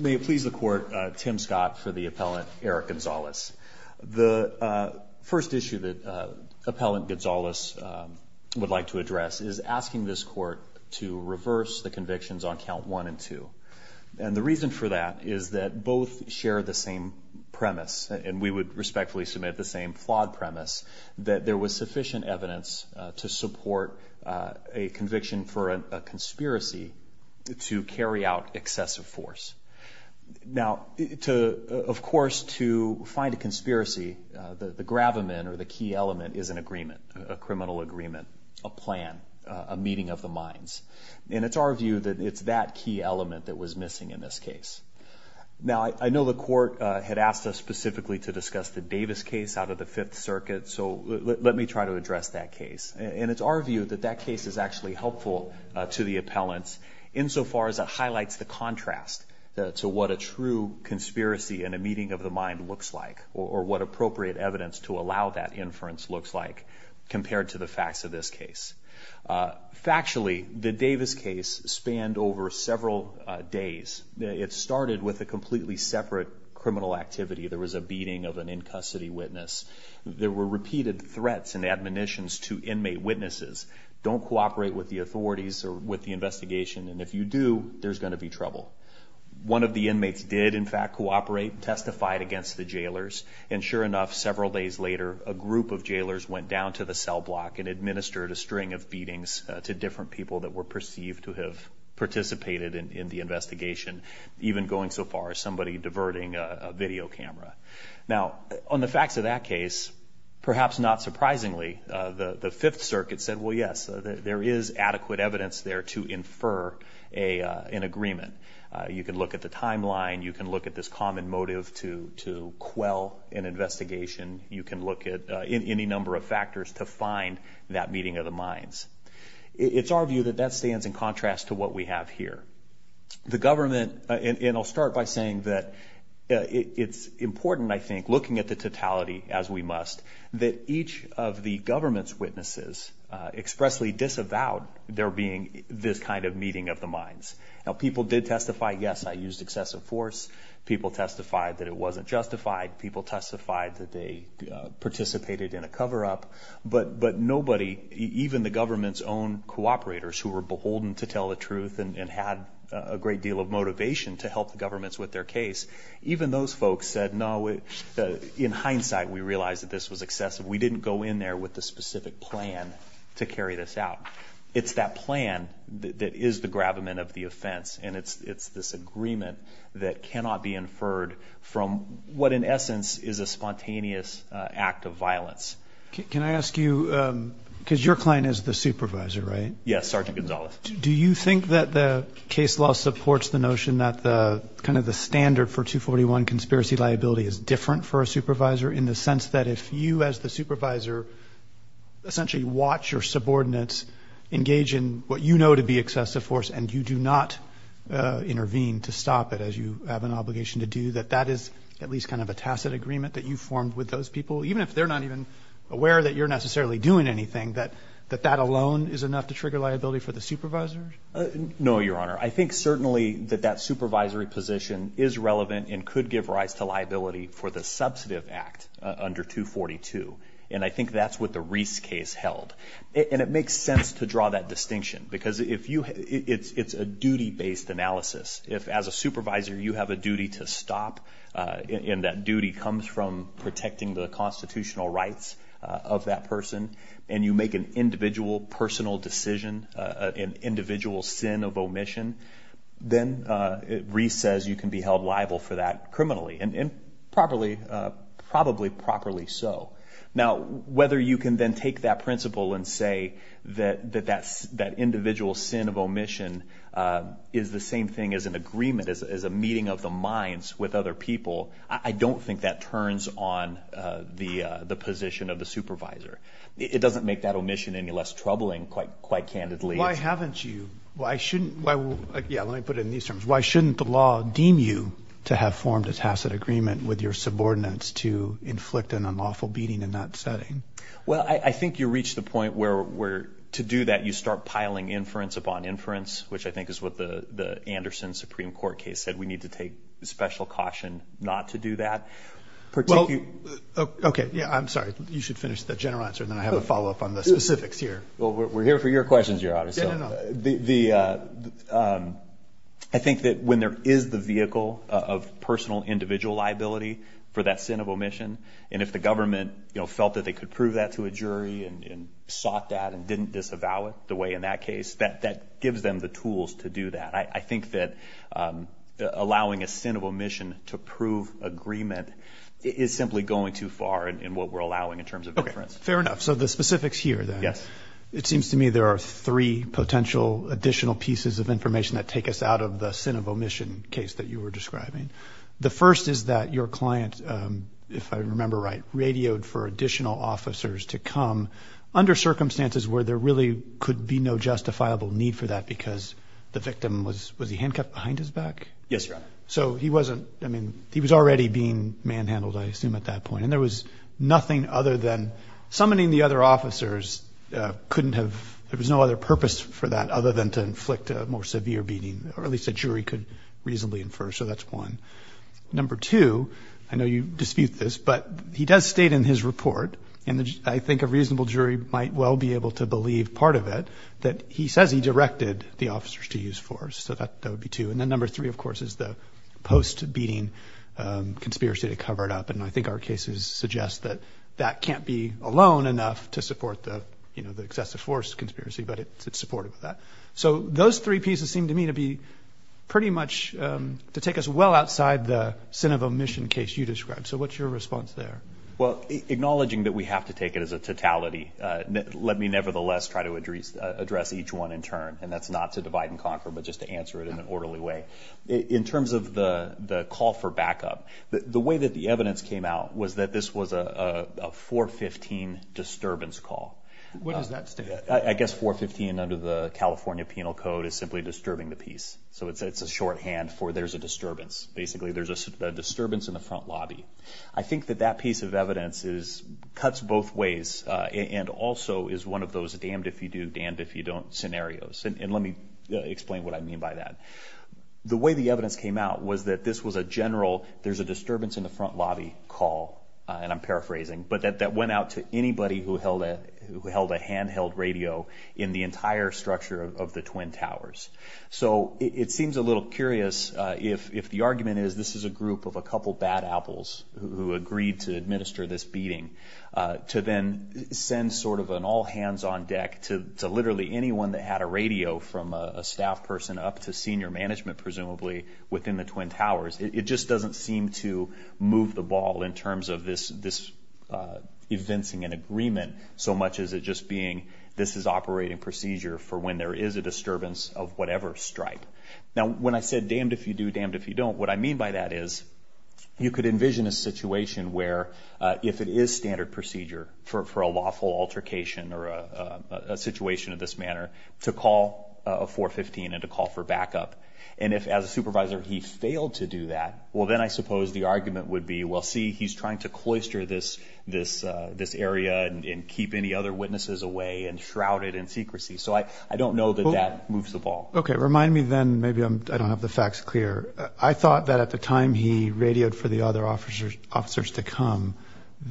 May it please the Court, Tim Scott for the Appellant Eric Gonzalez. The first issue that Appellant Gonzalez would like to address is asking this Court to reverse the convictions on Count 1 and 2. And the reason for that is that both share the same premise, and we would respectfully submit the same flawed premise, that there was sufficient evidence to support a conviction for a conspiracy to carry out excessive force. Now to, of course, to find a conspiracy, the gravamen or the key element is an agreement, a criminal agreement, a plan, a meeting of the minds. And it's our view that it's that key element that was missing in this case. Now I know the Court had asked us specifically to discuss the Davis case out of the Fifth Circuit, so let me try to address that case. And it's our view that that case is actually helpful to the Appellants, insofar as it highlights the contrast to what a true conspiracy and a meeting of the mind looks like, or what appropriate evidence to allow that inference looks like, compared to the facts of this case. Factually, the Davis case spanned over several days. It started with a completely separate criminal activity. There was a beating of an in-custody witness. There were repeated threats and admonitions to inmate witnesses, don't cooperate with the authorities or with the investigation, and if you do, there's going to be trouble. One of the inmates did, in fact, cooperate and testified against the jailers. And sure enough, several days later, a group of jailers went down to the cell block and administered a string of beatings to different people that were perceived to have participated in the investigation, even going so far as somebody diverting a video camera. Now, on the facts of that case, perhaps not surprisingly, the Fifth Circuit said, well, yes, there is adequate evidence there to infer an agreement. You can look at the timeline. You can look at this common motive to quell an investigation. You can look at any number of factors to find that meeting of the minds. It's our view that that stands in contrast to what we have here. The government, and I'll start by saying that it's important, I think, looking at the totality as we must, that each of the government's witnesses expressly disavowed there being this kind of meeting of the minds. Now, people did testify, yes, I used excessive force. People testified that it wasn't justified. People testified that they participated in a cover-up. But nobody, even the government's own cooperators who were beholden to tell the truth and had a great deal of motivation to help governments with their case, even those folks said, no, in hindsight, we realized that this was excessive. We didn't go in there with a specific plan to carry this out. It's that plan that is the grabment of the offense, and it's this agreement that cannot be inferred from what, in essence, is a spontaneous act of violence. Can I ask you, because your client is the supervisor, right? Yes, Sergeant Gonzalez. Do you think that the case law supports the notion that kind of the standard for 241 conspiracy liability is different for a supervisor in the sense that if you as the supervisor essentially watch your subordinates engage in what you know to be excessive force and you do not intervene to stop it as you have an obligation to do, that that is at least kind of a tacit agreement that you formed with those people, even if they're not even aware that you're a supervisor? No, Your Honor. I think certainly that that supervisory position is relevant and could give rise to liability for the substantive act under 242, and I think that's what the Reese case held, and it makes sense to draw that distinction because it's a duty-based analysis. If, as a supervisor, you have a duty to stop and that duty comes from protecting the constitutional rights of that person, and you make an individual personal decision, an individual sin of omission, then Reese says you can be held liable for that criminally, and probably, probably properly so. Now, whether you can then take that principle and say that that individual sin of omission is the same thing as an agreement, as a meeting of the minds with other people, I don't think that turns on the position of the supervisor. It doesn't make that omission any less troubling, quite candidly. Why haven't you, why shouldn't, yeah, let me put it in these terms, why shouldn't the law deem you to have formed a tacit agreement with your subordinates to inflict an unlawful beating in that setting? Well, I think you reach the point where, to do that, you start piling inference upon inference, which I think is what the Anderson Supreme Court case said. We need to take special caution not to do that. Well, okay, yeah, I'm sorry, you should finish the general answer, then I have a follow-up on the specifics here. Well, we're here for your questions, Your Honor. I think that when there is the vehicle of personal individual liability for that sin of omission, and if the government felt that they could prove that to a jury and sought that and didn't disavow it the way in that case, that gives them the tools to do that. I think that allowing a sin of omission to prove agreement is simply going too far in what we're allowing in terms of inference. Okay, fair enough. So the specifics here, then. Yeah. It seems to me there are three potential additional pieces of information that take us out of the sin of omission case that you were describing. The first is that your client, if I remember right, radioed for additional officers to come under circumstances where there really could be no justifiable need for that because the victim was, was he handcuffed behind his back? Yes, Your Honor. So he wasn't, I mean, he was already being manhandled, I assume, at that point, and there was nothing other than summoning the other officers couldn't have, there was no other purpose for that other than to inflict a more severe beating, or at least a jury could reasonably infer, so that's one. Number two, I know you dispute this, but he does state in his report, and I think a reasonable to use force. So that would be two. And then number three, of course, is the post beating conspiracy to cover it up. And I think our cases suggest that that can't be alone enough to support the, you know, the excessive force conspiracy, but it supported that. So those three pieces seem to me to be pretty much to take us well outside the sin of omission case you described. So what's your response there? Well, acknowledging that we have to take it as a totality, let me nevertheless try to address each one in turn, and that's not to divide and conquer, but just to answer it in an orderly way. In terms of the call for backup, the way that the evidence came out was that this was a 415 disturbance call. What does that stand for? I guess 415 under the California Penal Code is simply disturbing the peace. So it's a shorthand for there's a disturbance, basically, there's a disturbance in the front lobby. I think that that piece of evidence is, cuts both ways, and also is one of those damned if you do, damned if you don't scenarios. And let me explain what I mean by that. The way the evidence came out was that this was a general, there's a disturbance in the front lobby call, and I'm paraphrasing, but that went out to anybody who held a handheld radio in the entire structure of the Twin Towers. So it seems a little curious if the argument is this is a group of a couple bad apples who agreed to administer this beating, to then send sort of an all hands on deck to literally anyone that had a radio from a staff person up to senior management presumably within the Twin Towers. It just doesn't seem to move the ball in terms of this evincing an agreement so much as it just being this is operating procedure for when there is a disturbance of whatever stripe. Now when I said damned if you do, damned if you don't, what I mean by that is you could envision a situation where if it is standard procedure for a lawful altercation or a situation of this manner to call a 415 and to call for backup. And if as a supervisor he failed to do that, well then I suppose the argument would be, well see he's trying to cloister this area and keep any other witnesses away and shroud it in secrecy. So I don't know that that moves the ball. Okay. Remind me then, maybe I don't have the facts clear. I thought that at the time he radioed for the other officers to come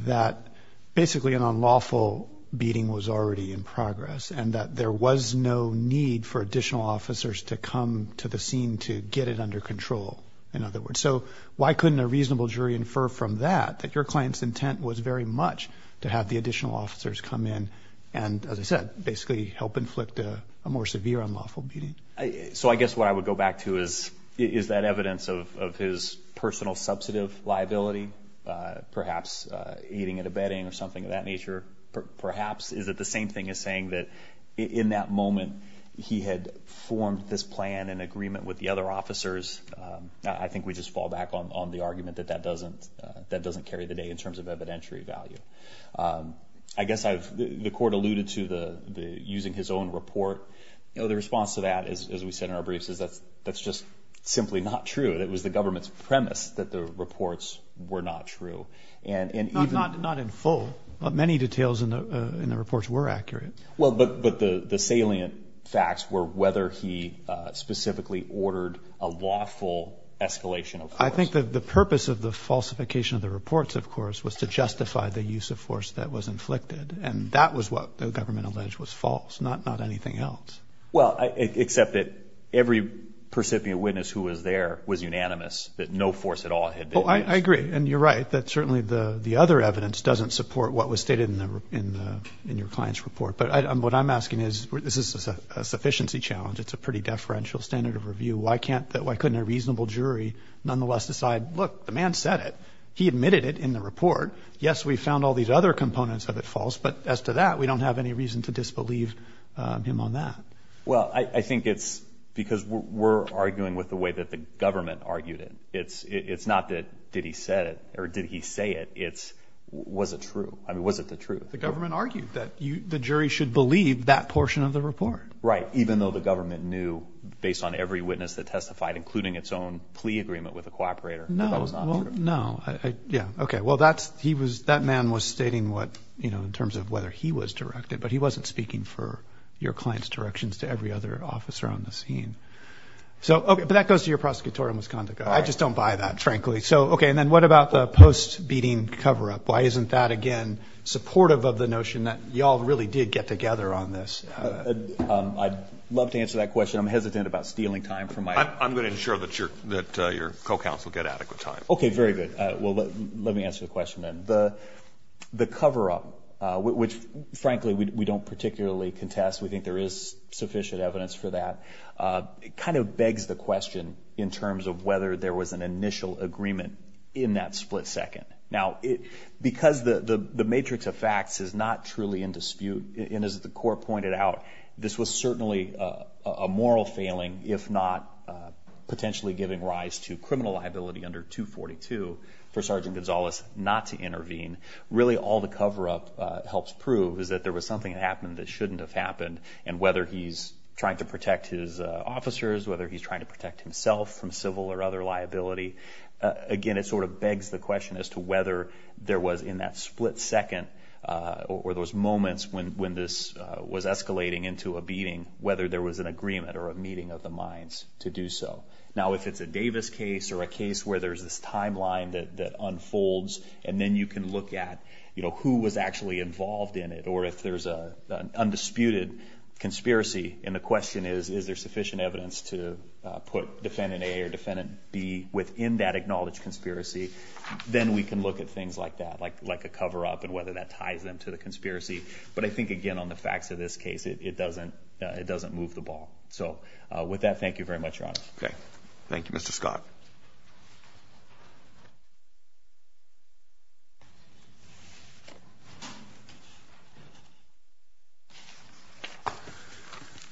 that basically an unlawful beating was already in progress and that there was no need for additional officers to come to the scene to get it under control in other words. So why couldn't a reasonable jury infer from that that your client's intent was very much to have the additional officers come in and as I said, basically help inflict a more severe unlawful beating? So I guess what I would go back to is, is that evidence of his personal substantive liability, perhaps eating at a bedding or something of that nature, perhaps is it the same thing as saying that in that moment he had formed this plan in agreement with the other officers? I think we just fall back on the argument that that doesn't carry the day in terms of evidentiary value. I guess the court alluded to using his own report. The response to that, as we said in our briefs, is that that's just simply not true. It was the government's premise that the reports were not true. And not in full, but many details in the reports were accurate. Well, but the salient facts were whether he specifically ordered a lawful escalation. I think that the purpose of the falsification of the reports, of course, was to justify the use of force that was inflicted. And that was what the government alleged was false, not anything else. Well, except that every percipient witness who was there was unanimous that no force at all. I agree. And you're right that certainly the the other evidence doesn't support what was stated in the in the in your client's report. But what I'm asking is, is this a sufficiency challenge? It's a pretty deferential standard of review. Why can't that why couldn't a reasonable jury nonetheless decide, look, the man said it. He admitted it in the report. Yes, we found all these other components of it false. But as to that, we don't have any reason to disbelieve him on that. Well, I think it's because we're arguing with the way that the government argued it. It's it's not that did he said it or did he say it? It's was it true? I mean, was it the truth? The government argued that the jury should believe that portion of the report. Right. Even though the government knew based on every witness that testified, including its own plea agreement with the cooperator. No, no. Yeah. OK, well, that's he was that man was stating what, you know, in terms of whether he was directed, but he wasn't speaking for your client's directions to every other officer on the scene. So that goes to your prosecutorial misconduct. I just don't buy that, frankly. So, OK, and then what about the post beating cover up? Why isn't that, again, supportive of the notion that you all really did get together on this? I'd love to answer that question. I'm hesitant about stealing time from my I'm going to ensure that your that your co-counsel get adequate time. OK, very good. Well, let me answer the question. And the the cover up, which, frankly, we don't particularly contest. We think there is sufficient evidence for that. It kind of begs the question in terms of whether there was an initial agreement in that split second. Now, it's because the matrix of facts is not truly in dispute. And as the court pointed out, this was certainly a moral failing, if not potentially giving rise to criminal liability under 242 for Sergeant Gonzalez not to intervene. Really, all the cover up helps prove is that there was something that happened that shouldn't have happened. And whether he's trying to protect his officers, whether he's trying to protect himself from civil or other liability, again, it sort of begs the question as to whether there was in that split second or those moments when this was escalating into a beating, whether there was an agreement or a meeting of the minds to do so. Now, if it's a Davis case or a case where there's this timeline that unfolds and then you can look at who was actually involved in it or if there's a undisputed conspiracy. And the question is, is there sufficient evidence to put defendant A or defendant B within that acknowledged conspiracy? Then we can look at things like that, like like a cover up and whether that ties into the conspiracy. But I think, again, on the fact of this case, it doesn't it doesn't move the ball. So with that, thank you very much, Ron. Thank you, Mr. Scott.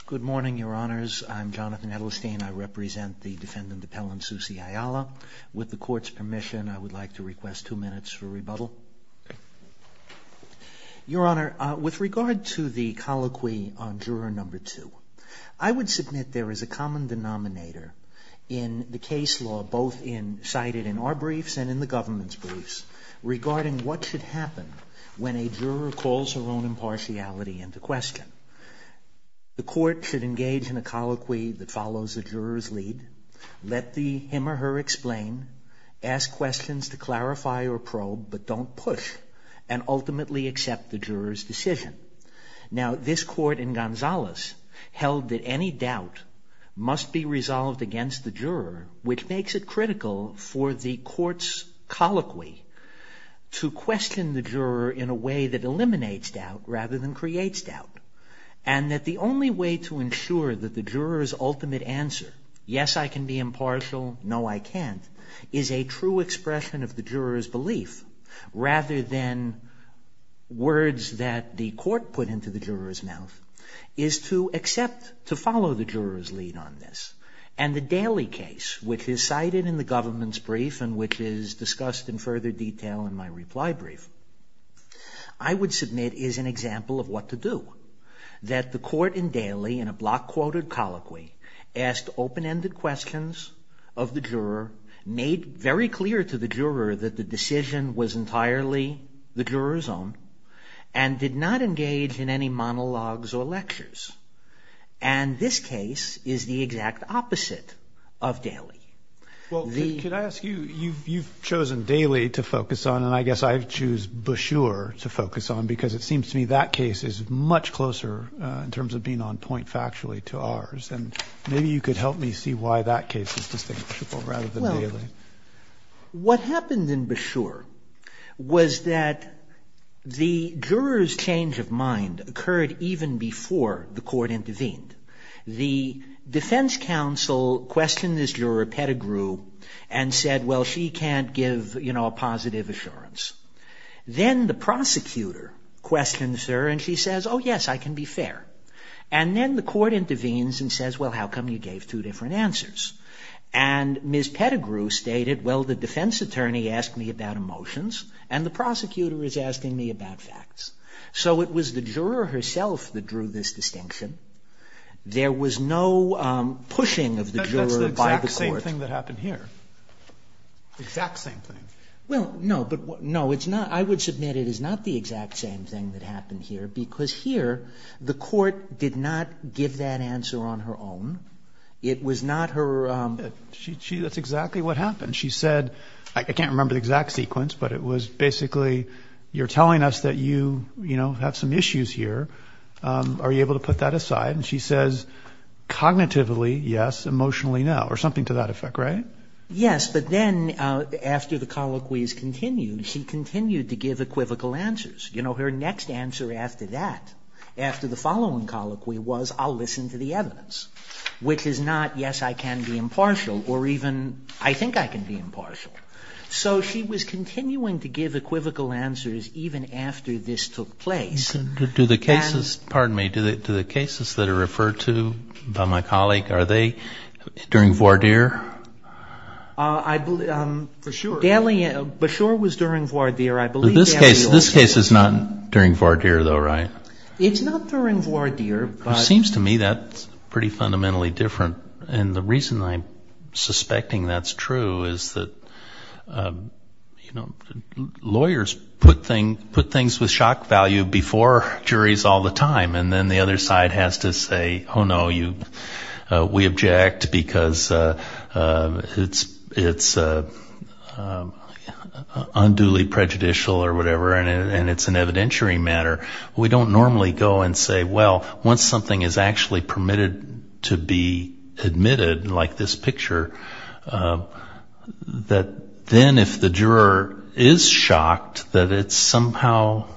Good morning, your honors, I'm Jonathan Edelstein, I represent the defendant, the Pellin Susi Ayala. With the court's permission, I would like to request two minutes for rebuttal. Your honor, with regard to the colloquy on juror number two, I would submit there is a common denominator in the case law, both in cited in our briefs and in the government's briefs regarding what should happen when a juror calls her own impartiality in the question. The court should engage in a colloquy that follows the juror's lead. Let the him or her explain, ask questions to clarify or probe, but don't push the and ultimately accept the juror's decision. Now, this court in Gonzalez held that any doubt must be resolved against the juror, which makes it critical for the court's colloquy to question the juror in a way that eliminates doubt rather than creates doubt. And that the only way to ensure that the juror's ultimate answer, yes, I can be in words that the court put into the juror's mouth, is to accept to follow the juror's lead on this. And the Daly case, which is cited in the government's brief and which is discussed in further detail in my reply brief, I would submit is an example of what to do. That the court in Daly in a block quoted colloquy asked open ended questions of the the juror's own and did not engage in any monologues or lectures. And this case is the exact opposite of Daly. Well, could I ask you, you've chosen Daly to focus on, and I guess I choose Bashur to focus on because it seems to me that case is much closer in terms of being on point factually to ours. And maybe you could help me see why that case is distinguishable rather than Daly. What happened in Bashur was that the juror's change of mind occurred even before the court intervened. The defense counsel questioned this juror, Pettigrew, and said, well, she can't give a positive assurance. Then the prosecutor questions her and she says, oh, yes, I can be fair. And then the court intervenes and says, well, how come you gave two different answers? And Ms. Pettigrew stated, well, the defense attorney asked me about emotions and the prosecutor is asking me about facts. So it was the juror herself that drew this distinction. There was no pushing of the juror by the court. That's the exact same thing that happened here. Exact same thing. Well, no, but no, it's not. I would submit it is not the exact same thing that happened here because here the court did not give that answer on her own. It was not her. She that's exactly what happened. She said, I can't remember the exact sequence, but it was basically you're telling us that you have some issues here. Are you able to put that aside? And she says cognitively, yes, emotionally now or something to that effect. Right. Yes. But then after the colloquies continued, she continued to give equivocal answers. You know, her next answer after that, after the following colloquy was I'll listen to the evidence, which is not. Yes, I can be impartial or even I think I can be impartial. So she was continuing to give equivocal answers even after this took place. Do the cases pardon me to the cases that are referred to by my colleague, are they during voir dire? I'm for sure. Daly Bashor was during voir dire. I believe this case is not during voir dire, though. Right. It's not during voir dire. Seems to me that's pretty fundamentally different. And the reason I'm suspecting that's true is that, you know, lawyers put things put things with shock value before juries all the time. And then the other side has to say, oh, no, you we object because it's it's unduly prejudicial or whatever. And it's an evidentiary matter. We don't normally go and say, well, once something is actually permitted to be admitted like this picture, that then if the juror is shocked, that it's somehow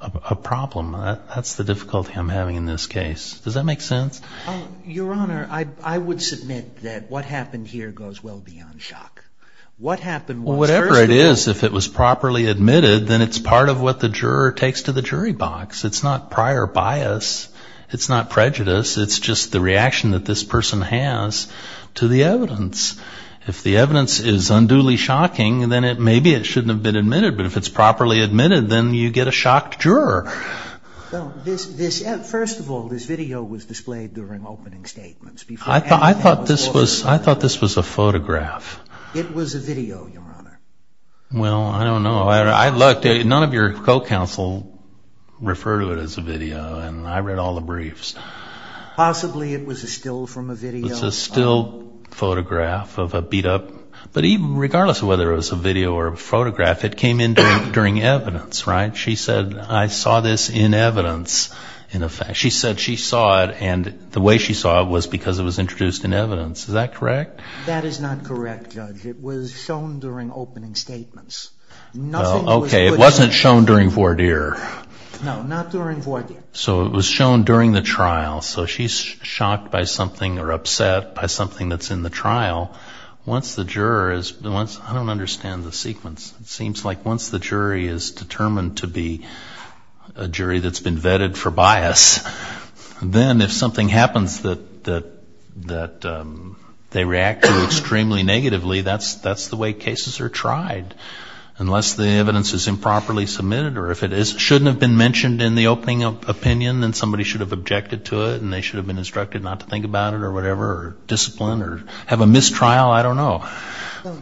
a problem. That's the difficulty I'm having in this case. Does that make sense? Your Honor, I would submit that what happened here goes well beyond shock. What happened, whatever it is, if it was properly admitted, then it's part of what the jury box, it's not prior bias, it's not prejudice, it's just the reaction that this person has to the evidence. If the evidence is unduly shocking, then it maybe it shouldn't have been admitted. But if it's properly admitted, then you get a shocked juror. Well, this this first of all, this video was displayed during opening statements. I thought I thought this was I thought this was a photograph. It was a video, Your Honor. Well, I don't know. I looked at it. None of your co-counsel referred to it as a video. And I read all the briefs. Possibly it was a still from a video. It's a still photograph of a beat up. But even regardless of whether it was a video or photograph, it came in during during evidence. Right. She said I saw this in evidence. In effect, she said she saw it and the way she saw it was because it was introduced in evidence. Is that correct? That is not correct, Judge. It was shown during opening statements. No. OK. It wasn't shown during voir dire. No, not during voir dire. So it was shown during the trial. So she's shocked by something or upset by something that's in the trial. Once the jurors, I don't understand the sequence. It seems like once the jury is determined to be a jury that's been vetted for bias, then if something happens that that that they react extremely negatively, that's that's the way cases are tried. Unless the evidence is improperly submitted or if it shouldn't have been mentioned in the opening of opinion, then somebody should have objected to it and they should have been instructed not to think about it or whatever discipline or have a mistrial. I don't know.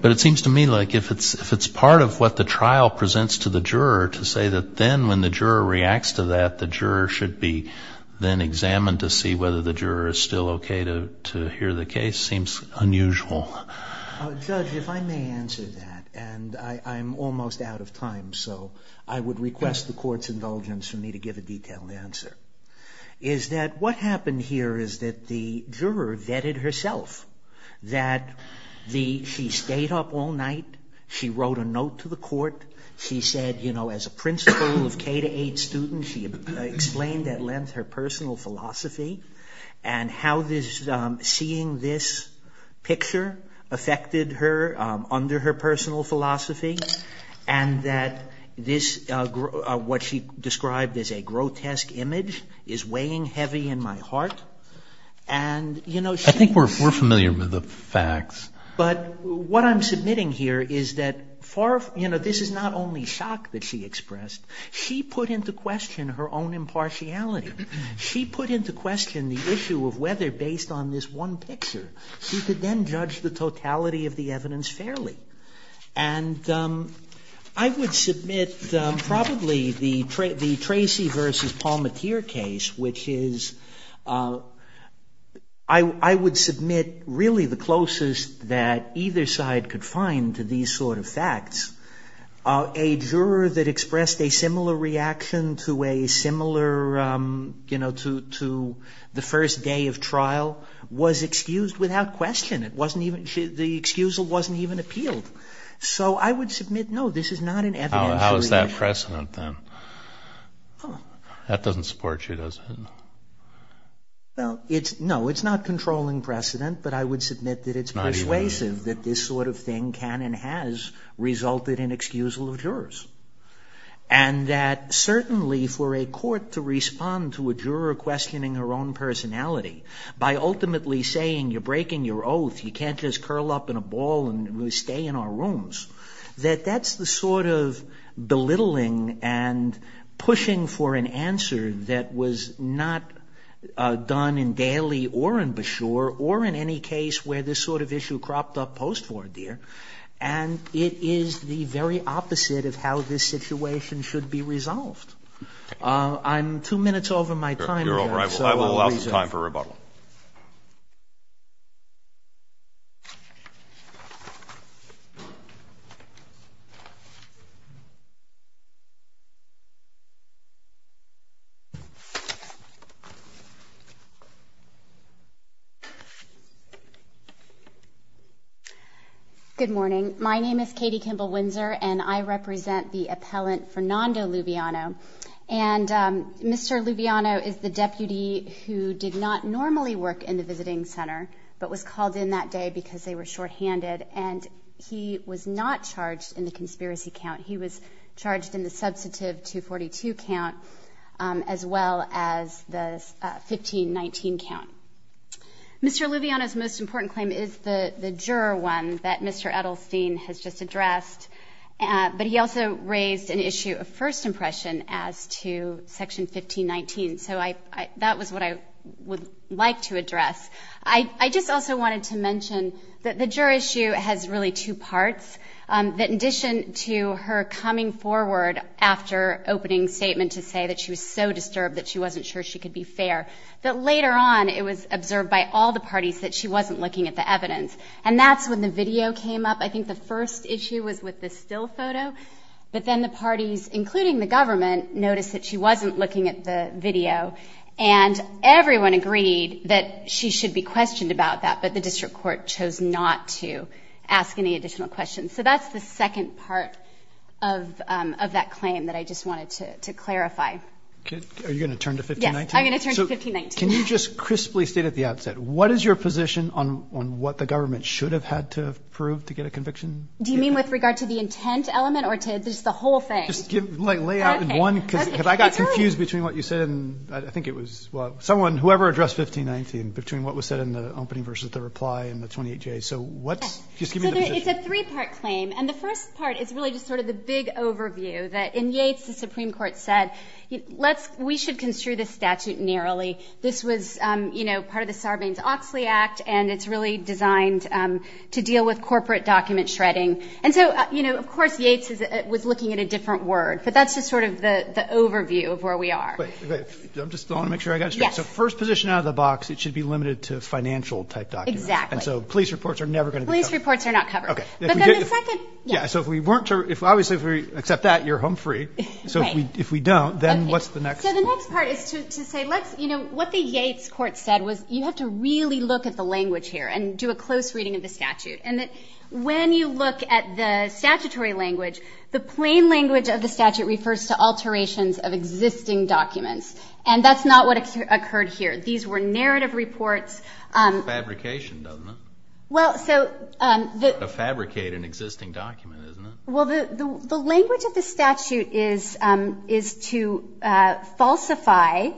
But it seems to me like if it's if it's part of what the trial presents to the juror to say that then when the juror reacts to that, the juror should be then examined to see whether the juror is still OK to to hear the case seems unusual. Judge, if I may answer that, and I'm almost out of time, so I would request the court's indulgence for me to give a detailed answer, is that what happened here is that the juror vetted herself, that the she stayed up all night, she wrote a note to the court. She said, you know, as a principal of K-8 students, she explained at length her affected her under her personal philosophy and that this is what she described as a grotesque image is weighing heavy in my heart. And, you know, I think we're familiar with the facts, but what I'm submitting here is that for, you know, this is not only shock that she expressed, she put into question her own impartiality. She put into question the issue of whether based on this one picture, she could then judge the totality of the evidence fairly. And I would submit probably the Tracy versus Palmatier case, which is, I would submit really the closest that either side could find to these sort of facts, a juror that expressed a similar reaction to a similar, you know, to the first day of trial was excused without question. It wasn't even the excusal wasn't even appealed. So I would submit, no, this is not an evidence. How is that precedent then? That doesn't support you, does it? Well, it's no, it's not controlling precedent, but I would submit that it's persuasive that this sort of thing can and has resulted in excusal of jurors. And that certainly for a court to respond to a juror questioning her own personality by ultimately saying, you're breaking your oath. You can't just curl up in a ball and stay in our rooms. That that's the sort of belittling and pushing for an answer that was not done in Daly or in Beshore or in any case where this sort of issue cropped up post-war, dear. And it is the very opposite of how this situation should be resolved. I'm two minutes over my time. I will allow time for rebuttal. Good morning. My name is Katie Kimball Windsor and I represent the appellant, Fernando Lubiano. And Mr. Lubiano is the deputy who did not normally work in the visiting center, but was called in that day because they were shorthanded and he was not charged in the conspiracy count. He was charged in the substantive 242 count as well as the 1519 count. Mr. Lubiano's most important claim is the juror one that Mr. Edelstein has just addressed. But he also raised an issue of first impression as to Section 1519. So that was what I would like to address. I just also wanted to mention that the juror issue has really two parts that in addition to her coming forward after opening statement to say that she was so disturbed that she wasn't sure she could be fair. But later on, it was observed by all the parties that she wasn't looking at the evidence. And that's when the video came up. I think the first issue was with the still photo, but then the parties, including the government, noticed that she wasn't looking at the video and everyone agreed that she should be questioned about that. But the district court chose not to ask any additional questions. So that's the second part of of that claim that I just wanted to clarify. Are you going to turn to 1519? I'm going to turn to 1519. Can you just crisply state at the outset, what is your position on what the Do you mean with regard to the intent element or to just the whole thing? Just lay out in one case, because I got confused between what you said and I think it was someone, whoever addressed 1519, between what was said in the opening versus the reply and the 28-J. So it's a three-part claim. And the first part is really sort of the big overview that in Yates, the Supreme Court said, we should construe this statute narrowly. This was part of the Sarbanes-Oxley Act, and it's really designed to deal with government shredding. And so, you know, of course, Yates was looking at a different word, but that's just sort of the overview of where we are. I just want to make sure I got it straight. So first position out of the box, it should be limited to financial tech documents. Exactly. And so police reports are never going to be covered. Police reports are not covered. OK. But then the second. Yeah. So if we weren't sure, if obviously, if we accept that, you're home free. So if we don't, then what's the next? So the next part is to say, let's, you know, what the Yates court said was you have to really look at the language here and do a close reading of the statute. And when you look at the statutory language, the plain language of the statute refers to alterations of existing documents. And that's not what occurred here. These were narrative reports. Fabrication, doesn't it? Well, so the fabricate an existing document, isn't it? Well, the language of the statute is to falsify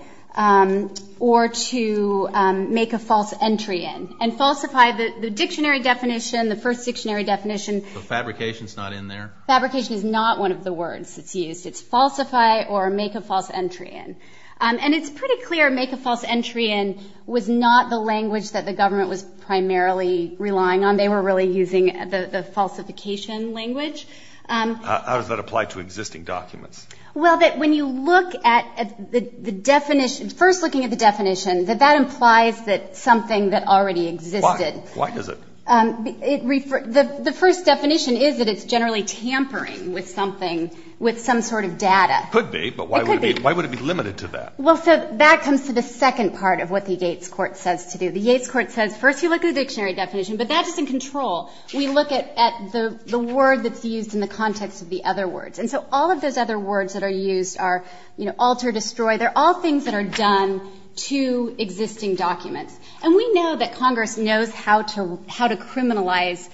or to make a false entry in and falsify the dictionary definition. The first dictionary definition. Fabrication is not in there. Fabrication is not one of the words that's used. It's falsify or make a false entry in. And it's pretty clear make a false entry in was not the language that the government was primarily relying on. They were really using the falsification language. How does that apply to existing documents? Well, that when you look at the definition, first looking at the definition, that that doesn't exist. Why is it? The first definition is that it's generally tampering with something, with some sort of data. Could be. But why would it be limited to that? Well, so that comes to the second part of what the Yates Court says to do. The Yates Court says, first, you look at the dictionary definition, the badness in control. You look at the word that's used in the context of the other words. And so all of those other words that are used are, you know, alter, destroy. They're all things that are done to existing documents. And we know that Congress knows how to how to criminalize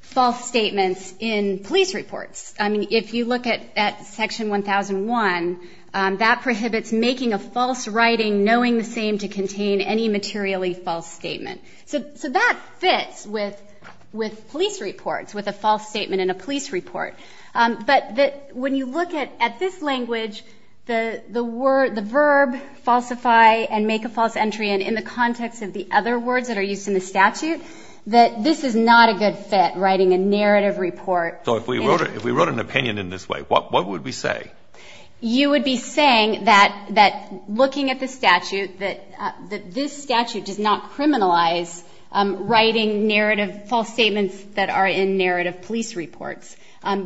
false statements in police reports. I mean, if you look at Section 1001, that prohibits making a false writing, knowing the same to contain any materially false statement. So that fits with with police reports, with a false statement in a police report. But that when you look at at this language, the word, the verb falsify and make a false entry and in the context of the other words that are used in the statute, that this is not a good fit writing a narrative report. So if we wrote it, if we wrote an opinion in this way, what would we say? You would be saying that that looking at the statute, that this statute does not criminalize writing narrative false statements that are in narrative police reports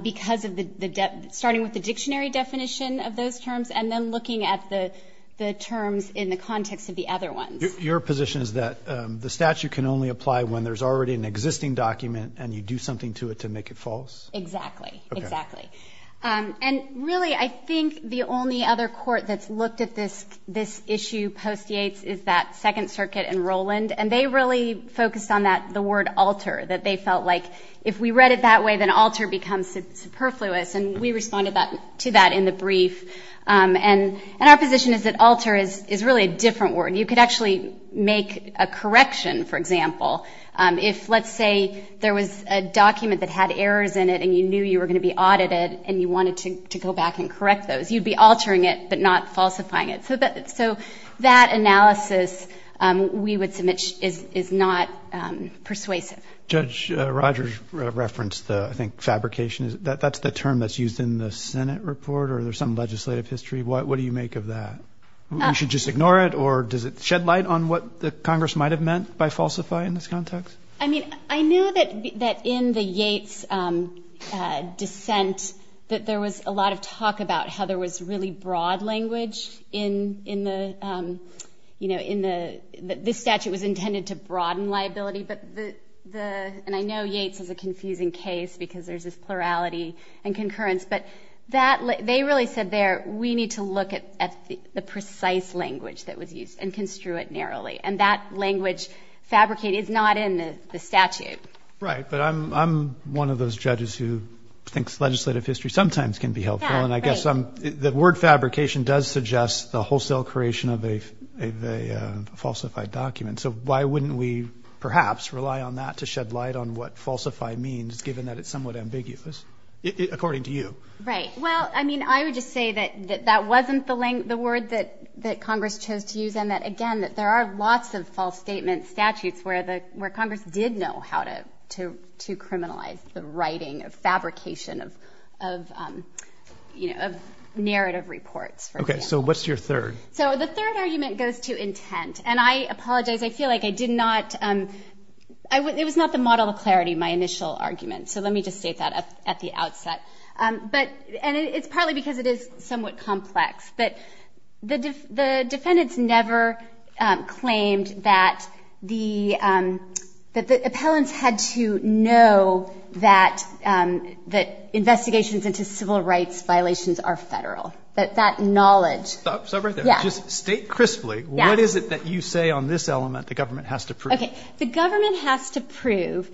because of the starting with the dictionary definition of those terms and then looking at the the terms in the context of the other one. Your position is that the statute can only apply when there's already an existing document and you do something to it to make it false. Exactly. Exactly. And really, I think the only other court that's looked at this, this issue post-Yates is that Second Circuit and Roland. And they really focused on that, the word alter, that they felt like if we read it that way, then alter becomes superfluous. And we responded to that in the brief. And our position is that alter is really a different word. You could actually make a correction, for example, if, let's say, there was a document that had errors in it and you knew you were going to be audited and you wanted to go back and correct those, you'd be altering it, but not falsifying it. So that so that analysis we would submit is not persuasive. Judge Rogers referenced the fabrication. That's the term that's used in the Senate report or there's some legislative history. What do you make of that? You should just ignore it. Or does it shed light on what Congress might have meant by falsify in this context? I mean, I knew that that in the Yates dissent, that there was a lot of talk about how there was really broad language in the, you know, in the this statute was intended to broaden liability. But the and I know Yates is a confusing case because there's this plurality and concurrence, but that they really said there, we need to look at the precise language that was used and construe it narrowly. And that language fabricated is not in the statute. Right. But I'm one of those judges who thinks legislative history sometimes can be helpful. And I guess the word fabrication does suggest the wholesale creation of a falsified document. So why wouldn't we perhaps rely on that to shed light on what falsify means, given that it's somewhat ambiguous, according to you? Right. Well, I mean, I would just say that that wasn't the link, the word that that Congress chose to use. And that, again, there are lots of false statement statutes where the Congress did know how to to to criminalize the writing of fabrication of, you know, narrative reports. OK, so what's your third? So the third argument goes to intent. And I apologize. I feel like I did not. It was not the model of clarity, my initial argument. So let me just state that at the outset. But and it's partly because it is somewhat complex, but the defendants never claimed that the appellants had to know that that investigations into civil rights violations are federal, that that knowledge. Yeah. State crisply, what is it that you say on this element the government has to prove? The government has to prove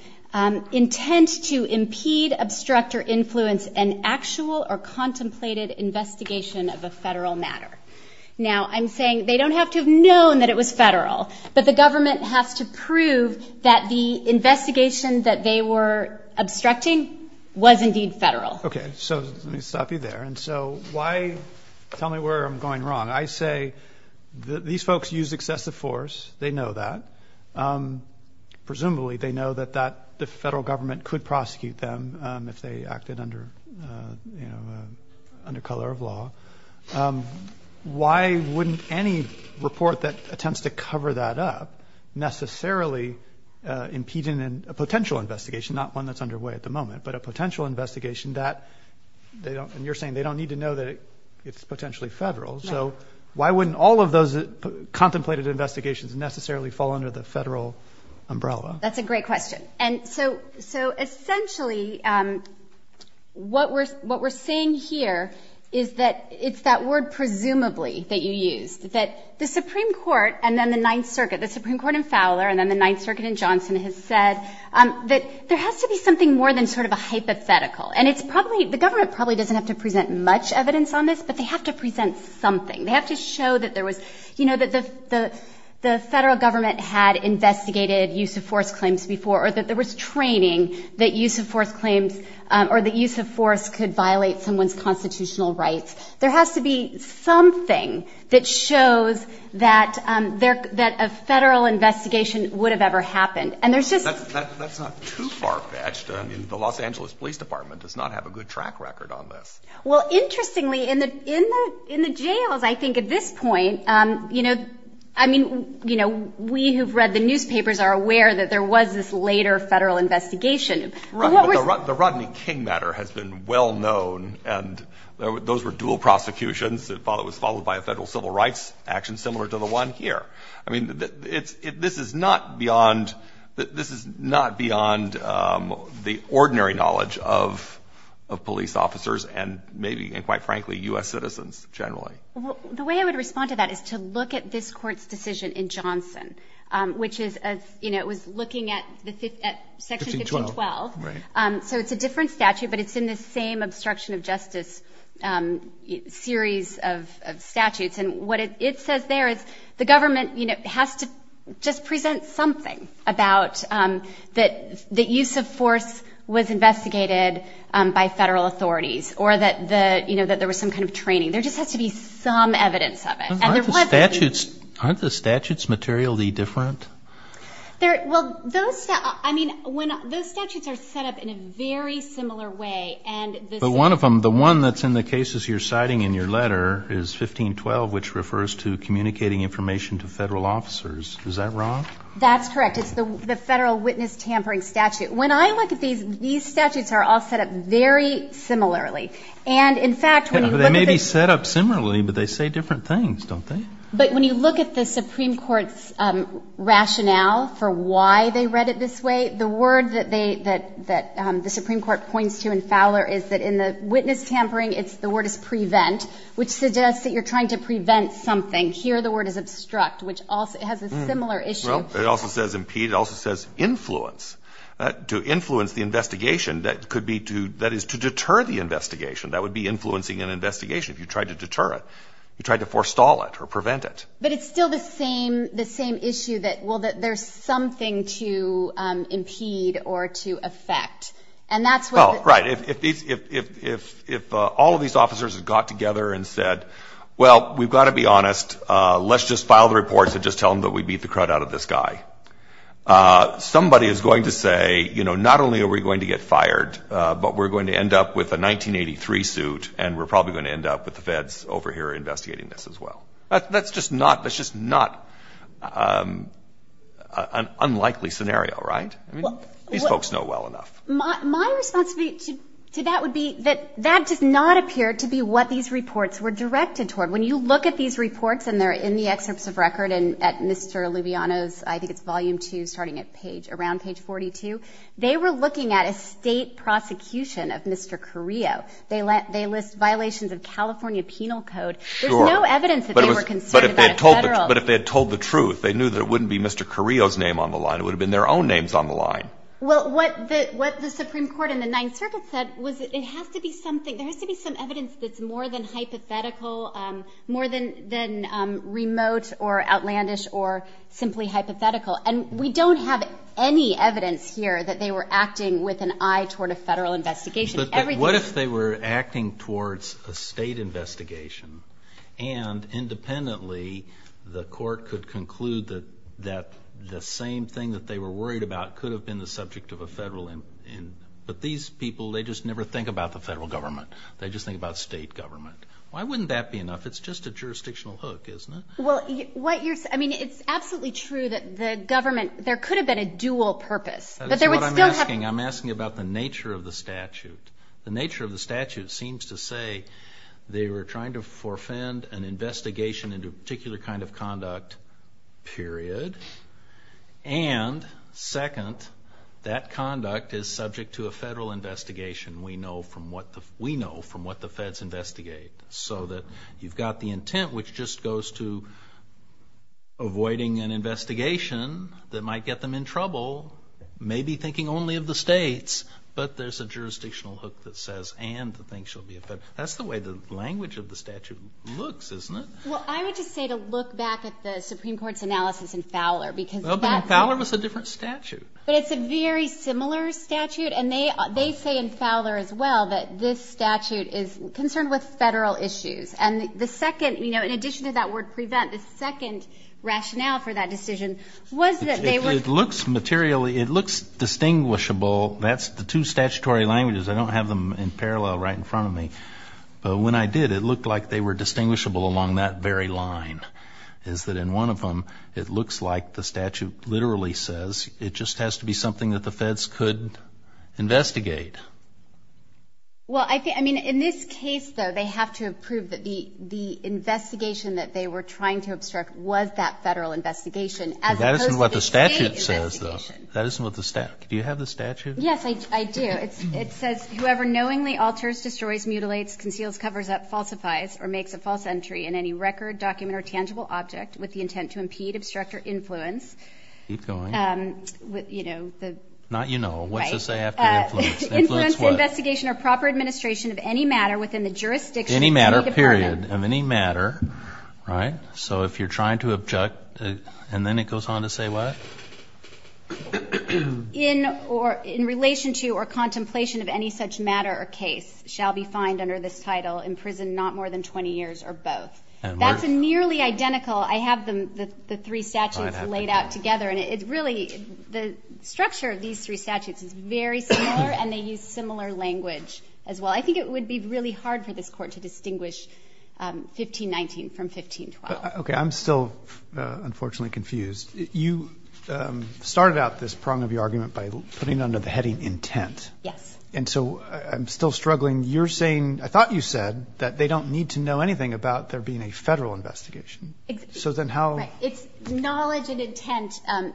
intent to impede, obstruct or influence an actual or contemplated investigation of a federal matter. Now, I'm saying they don't have to have known that it was federal, but the government has to prove that the investigation that they were obstructing was indeed federal. OK, so let me stop you there. And so why tell me where I'm going wrong? I say these folks use excessive force. They know that. Presumably, they know that that the federal government could prosecute them if they acted under, you know, under color of law. Why wouldn't any report that attempts to cover that up necessarily impeding a potential investigation, not one that's underway at the moment, but a potential investigation that they don't and you're saying they don't need to know that it's potentially federal. So why wouldn't all of those contemplated investigations necessarily fall under the federal umbrella? That's a great question. And so so essentially what we're what we're saying here is that it's that word presumably that you use that the Supreme Court and then the Ninth Circuit, the Supreme Court in Fowler and then the Ninth Circuit in Johnson has said that there has to be something more than sort of a hypothetical. And it's probably the government probably doesn't have to present much evidence on this, but they have to present something. They have to show that there was, you know, that the the federal government had investigated use of force claims before or that there was training that use of force claims or the use of force could violate someone's constitutional rights. There has to be something that shows that that a federal investigation would have ever happened. And there's just that's not too far fetched in the Los Angeles Police Department does not have a good track record on this. Well, interestingly, in the in the in the jails, I think at this point, you know, I mean, you know, we have read the newspapers are aware that there was this later federal investigation. The Rodney King matter has been well known. And those were dual prosecutions that was followed by a federal civil rights action similar to the one here. I mean, if this is not beyond that, this is not beyond the ordinary knowledge of of police officers and maybe and quite frankly, U.S. citizens generally. The way I would respond to that is to look at this court's decision in Johnson, which is as you know, it was looking at this at Section 12. So it's a different statute, but it's in the same obstruction of justice series of statutes. And what it says there is the government has to just present something about that the use of force was investigated by federal authorities or that the you know, that there was some kind of training. There just has to be some evidence of it. Aren't the statutes materially different? Well, those I mean, when those statutes are set up in a very similar way and the one of them there is 1512, which refers to communicating information to federal officers. Is that wrong? That's correct. It's the federal witness tampering statute. When I look at these, these statutes are all set up very similarly. And in fact, they may be set up similarly, but they say different things, don't they? But when you look at the Supreme Court's rationale for why they read it this way, the word that they that that the Supreme Court points to in Fowler is that in the witness tampering, it's the word is prevent, which suggests that you're trying to prevent something. Here, the word is obstruct, which has a similar issue. It also says impede. It also says influence to influence the investigation. That could be to that is to deter the investigation. That would be influencing an investigation. If you tried to deter it, you tried to forestall it or prevent it. But it's still the same the same issue that well, that there's something to impede or to effect. And that's right. If if if if if if all of these officers have got together and said, well, we've got to be honest, let's just file the reports and just tell them that we beat the crud out of this guy. Somebody is going to say, you know, not only are we going to get fired, but we're going to end up with a 1983 suit and we're probably going to end up with the feds over here investigating this as well. That's just not that's just not an unlikely scenario. Right. These folks know well enough. My response to that would be that that does not appear to be what these reports were directed toward. When you look at these reports and they're in the excerpts of record and at Mr. Lubiano's, I think it's volume two starting at page around page forty two, they were looking at a state prosecution of Mr. Carrillo. They let they list violations of California penal code. Sure. No evidence. But it was but if they told the truth, they knew that it wouldn't be Mr. Carrillo's name on the line. It would have been their own names on the line. Well, what what the Supreme Court in the Ninth Circuit said was it has to be something there has to be some evidence that's more than hypothetical, more than than remote or outlandish or simply hypothetical. And we don't have any evidence here that they were acting with an eye toward a federal investigation. What if they were acting towards a state investigation and independently, the court could conclude that that the same thing that they were worried about could have been the subject of a federal. But these people, they just never think about the federal government. They just think about state government. Why wouldn't that be enough? It's just a jurisdictional hook, isn't it? Well, what you're I mean, it's absolutely true that the government there could have been a dual purpose, but there was no I'm asking about the nature of the statute. The nature of the statute seems to say they were trying to forfend an investigation into a particular kind of conduct, period. And second, that conduct is subject to a federal investigation. We know from what we know from what the feds investigate so that you've got the intent, which just goes to avoiding an investigation that might get them in trouble, maybe thinking only of the states, but there's a jurisdictional hook that says and the things should be. But that's the way the language of the statute looks, isn't it? Well, I would just say to look back at the Supreme Court's analysis in Fowler, because Fowler was a different statute. It's a very similar statute. And they say in Fowler as well that this statute is concerned with federal issues. And the second, you know, in addition to that word prevent, the second rationale for that is distinguishable. That's the two statutory languages. I don't have them in parallel right in front of me. But when I did, it looked like they were distinguishable along that very line is that in one of them, it looks like the statute literally says it just has to be something that the feds could investigate. Well, I think I mean, in this case, though, they have to prove that the the investigation that they were trying to obstruct was that federal investigation. That isn't what the statute says, though. That isn't what the statute. Do you have the statute? Yes, I do. It says whoever knowingly alters, destroys, mutilates, conceals, covers up, falsifies or makes a false entry in any record, document or tangible object with the intent to impede, obstruct or influence, you know, the not, you know, what does that have to do with investigation or proper administration of any matter within the jurisdiction of any matter, period of any matter. Right. So if you're trying to object and then it goes on to say what? In or in relation to or contemplation of any such matter or case shall be fined under this title in prison, not more than 20 years or both. That's a nearly identical. I have the three statutes laid out together and it really the structure of these three statutes is very similar and they use similar language as well. I think it would be really hard for this court to distinguish 15-19 from 15-12. OK, I'm still unfortunately confused. You started out this prong of your argument by putting on a heading intent. Yes. And so I'm still struggling. You're saying I thought you said that they don't need to know anything about there being a federal investigation. So then how. It's knowledge and intent.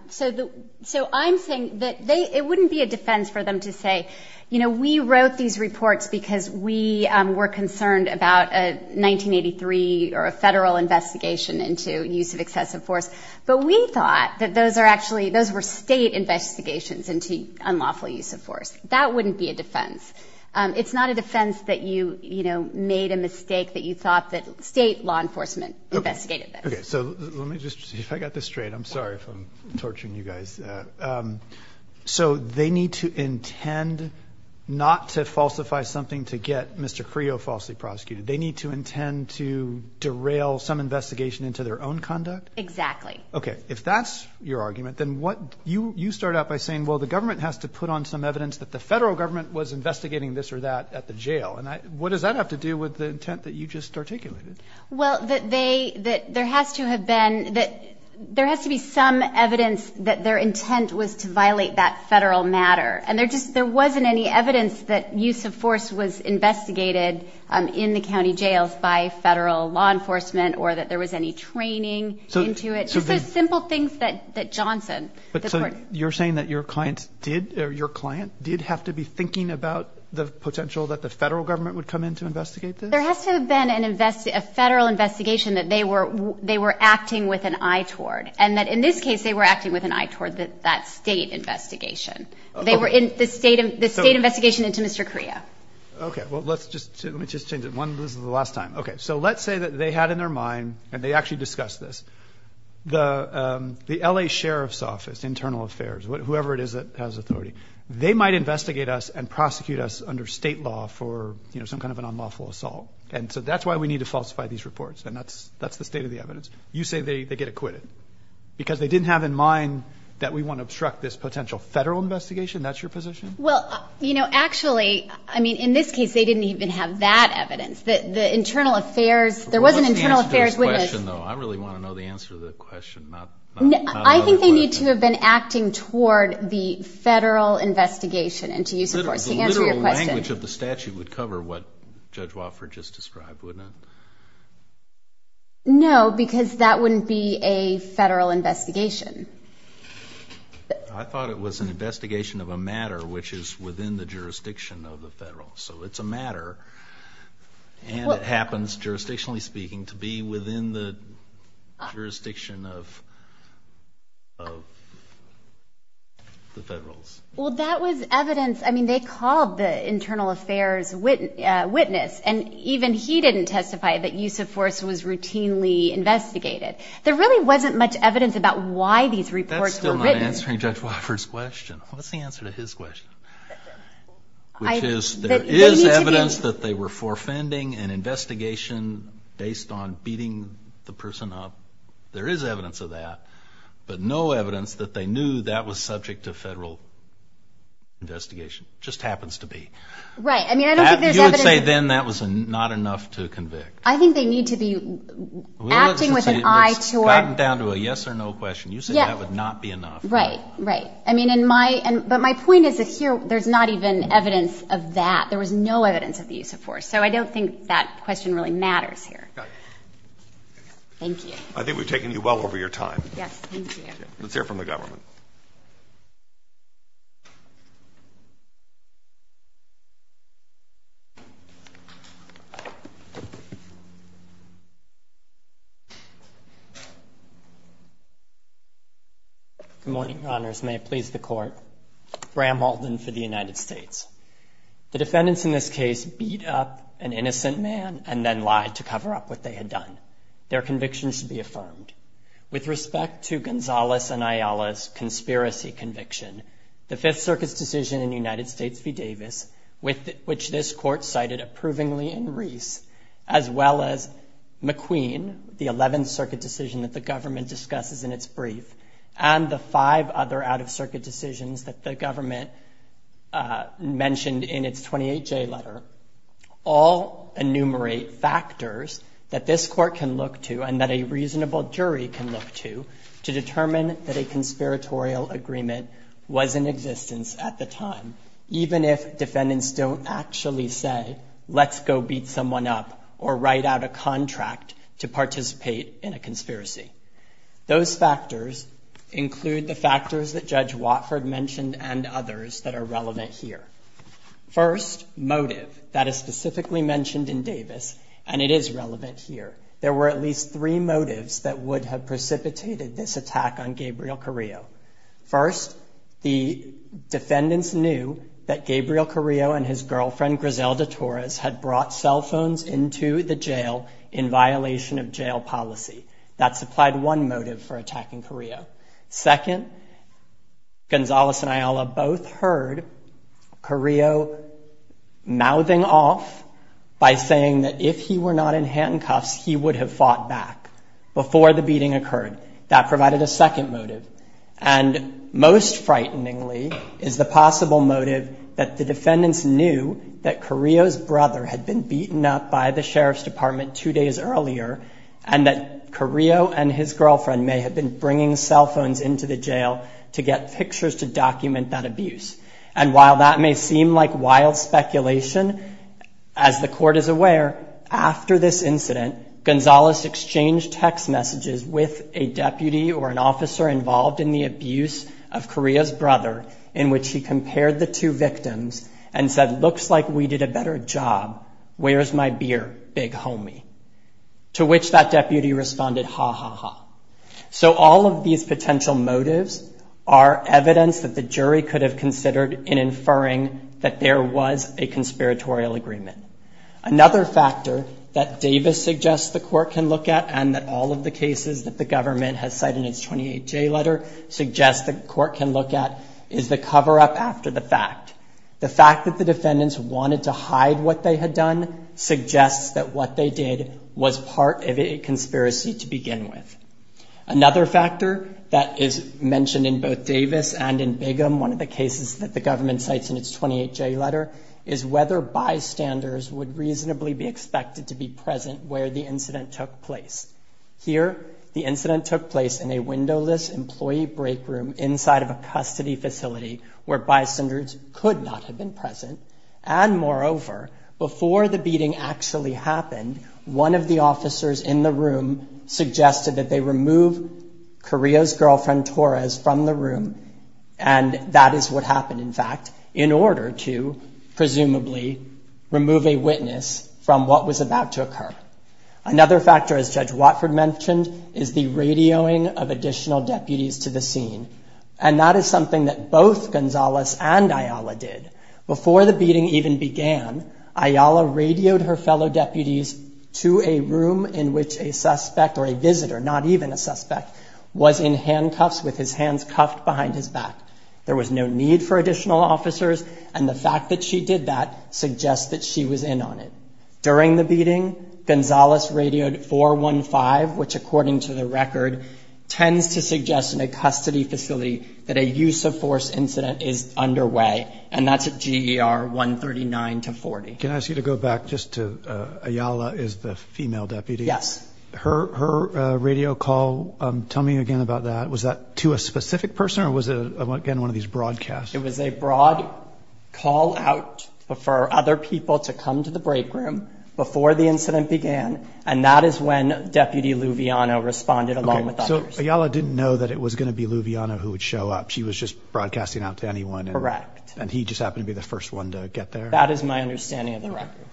So so I'm saying that it wouldn't be a defense for them to say, you know, we wrote these because we were concerned about a 1983 or a federal investigation into use of excessive force. But we thought that those are actually those were state investigations into unlawful use of force. That wouldn't be a defense. It's not a defense that you, you know, made a mistake that you thought that state law enforcement investigated. So let me just see if I got this straight. I'm sorry if I'm torturing you guys. So they need to intend not to falsify something to get Mr. Creel falsely prosecuted. They need to intend to derail some investigation into their own conduct. Exactly. OK, if that's your argument, then what you you start out by saying, well, the government has to put on some evidence that the federal government was investigating this or that at the jail. And what does that have to do with the intent that you just articulated? Well, that they that there has to have been that there has to be some evidence that their intent was to violate that federal matter. And there just there wasn't any evidence that use of force was investigated in the county jails by federal law enforcement or that there was any training into it. So the simple things that that Johnson, you're saying that your client did or your client did have to be thinking about the potential that the federal government would come in to investigate. There has to have been an invest, a federal investigation that they were they were acting with an eye toward and that in this case they were acting with an eye toward that state investigation. They were in the state of the state investigation into Mr. Correa. OK, well, let's just let me just say that one last time. OK, so let's say that they had in their mind and they actually discussed this. The the L.A. Sheriff's Office, Internal Affairs, whoever it is that has authority, they might investigate us and prosecute us under state law for some kind of an unlawful assault. And so that's why we need to falsify these reports. And that's that's the state of the evidence. You say they get acquitted because they didn't have in mind that we want to obstruct this potential federal investigation. That's your position. Well, you know, actually, I mean, in this case, they didn't even have that evidence that the Internal Affairs there was an internal affairs. Question, though, I really want to know the answer to the question. I think they need to have been acting toward the federal investigation and to use the language of the statute would cover what Judge Wofford just described, wouldn't it? No, because that wouldn't be a federal investigation. I thought it was an investigation of a matter which is within the jurisdiction of the federal. So it's a matter. And it happens, jurisdictionally speaking, to be within the jurisdiction of. Of. The federal. Well, that was evidence. I mean, they called the Internal Affairs witness and even he didn't testify that use of force was routinely investigated. There really wasn't much evidence about why these reports were written. Answering Judge Wofford's question. What's the answer to his question? I guess there is evidence that they were forfeiting an investigation based on beating the person up. There is evidence of that, but no evidence that they knew that was subject to a federal. Investigation just happens to be right, I mean, then that was not enough to convict. I think they need to be acting with an eye to it down to a yes or no question. You said that would not be enough. Right. Right. I mean, in my. But my point is that here there's not even evidence of that. There was no evidence of the use of force. So I don't think that question really matters here. Thank you. I think we've taken you well over your time. Yes. Let's hear from the government. A motion honors may please the court, Bram Halden for the United States. The defendants in this case beat up an innocent man and then lied to cover up what they had done. Their convictions to be affirmed. With respect to Gonzales and Ayala's conspiracy conviction, the Fifth Circuit's decision in the United States v. Davis, with which this court cited approvingly in Reif, as well as McQueen, the 11th Circuit decision that the government discusses in its brief, and the five other out-of-circuit decisions that the government mentioned in its 28-J letter, all enumerate factors that this court can look to, and that a reasonable jury can look to, to determine that a conspiratorial agreement was in existence at the time, even if defendants don't actually say, let's go beat someone up, or write out a contract to participate in a conspiracy. Those factors include the factors that Judge Watford mentioned and others that are relevant here. First, motive. That is specifically mentioned in Davis, and it is relevant here. There were at least three motives that would have precipitated this attack on Gabriel Carrillo. First, the defendants knew that Gabriel Carrillo and his girlfriend Griselda Torres had brought cell phones into the jail in violation of jail policy. That supplied one motive for attacking Carrillo. Second, Gonzales and Ayala both heard Carrillo mouthing off by saying that if he were not in handcuffs, he would have fought back before the beating occurred. That provided a second motive, and most frighteningly is the possible motive that the defendants knew that Carrillo's brother had been beaten up by the Sheriff's Department two days earlier, and that Carrillo and his girlfriend may have been bringing cell phones into the jail to get pictures to seem like wild speculation. As the court is aware, after this incident, Gonzales exchanged text messages with a deputy or an officer involved in the abuse of Carrillo's brother, in which he compared the two victims and said, looks like we did a better job. Where's my beer, big homie? To which that deputy responded, ha ha ha. So all of these potential motives are evidence that the jury could have considered in inferring that there was a conspiratorial agreement. Another factor that Davis suggests the court can look at, and that all of the cases that the government has cited in its 28-J letter, suggests the court can look at, is the cover-up after the fact. The fact that the defendants wanted to hide what they had done suggests that what they did was part of a conspiracy to begin with. Another factor that is mentioned in both Davis and in Bigham, one of the cases that the government cites in its 28-J letter, is whether bystanders would reasonably be expected to be present where the incident took place. Here, the incident took place in a windowless employee break room inside of a custody facility where bystanders could not have been present. And moreover, before the beating actually happened, one of the officers in the room suggested that they remove Carrillo's girlfriend Torres from the room, and that is what happened, in fact, in order to presumably remove a witness from what was about to occur. Another factor, as Judge Watford mentioned, is the radioing of additional deputies to the scene. And that is something that both Gonzales and Ayala did. Before the beating even began, Ayala radioed her fellow deputies to a room in which a suspect or a visitor, not even a suspect, was in handcuffs with his hands cuffed behind his back. There was no need for additional officers, and the fact that she did that suggests that she was in on it. During the beating, Gonzales radioed 415, which according to the record tends to suggest in a custody facility that a use-of-force incident is underway, and that's at GER 139 to 40. Can I ask you to go back just to, Ayala is the female deputy. Yes. Her radio call, tell me again about that, was that to a specific person or was it again one of these broadcasts? It was a broad call out for other people to come to the break room before the incident began, and that is when Deputy Luviano responded along with others. So Ayala didn't know that it was going to be Luviano who would show up. She was just broadcasting out to anyone. Correct. And he just happened to be the first one to get there. That is my understanding of the record.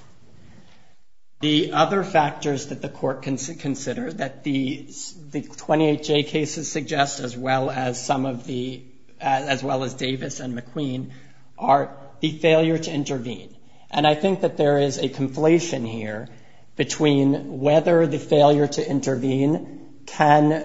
The other factors that the court can consider that the 28J cases suggest, as well as some of the, as well as Davis and McQueen, are the failure to intervene. And I think that there is a conflation here between whether the failure to intervene can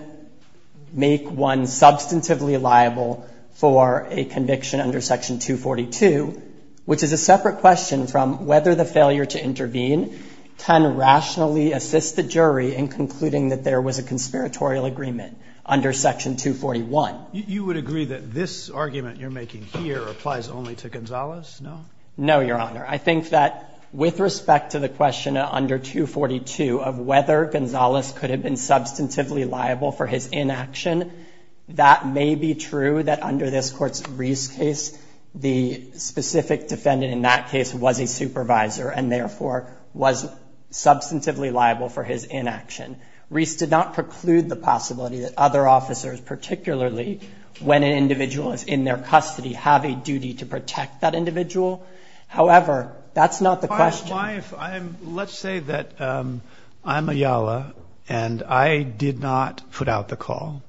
make one substantively liable for a conviction under Section 242, which is a separate question from whether the failure to intervene can rationally assist the jury in concluding that there was a conspiratorial agreement under Section 241. You would agree that this argument you're making here applies only to Gonzalez, no? No, Your Honor. I think that with respect to the question under 242 of whether Gonzalez could have been substantively liable for his inaction, that may be true that under this Court's Reiss case, the specific defendant in that case was a supervisor and therefore was substantively liable for his inaction. Reiss did not preclude the possibility that other officers, particularly when an individual is in their custody, have a duty to protect that individual. However, that's not the question. Let's say that I'm Ayala and I did not put out the call.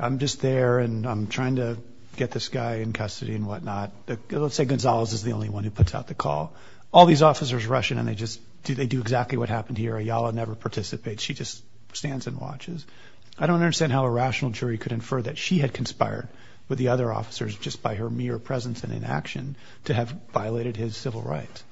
I'm just there and I'm trying to get this guy in custody and whatnot. Let's say Gonzalez is the only one who puts out the call. All these officers rush in and they just do exactly what happened here. Ayala never participates. She just stands and watches. I don't understand how a rational jury could infer that she had conspired with the other officers just by her mere presence and inaction to have violated his civil rights.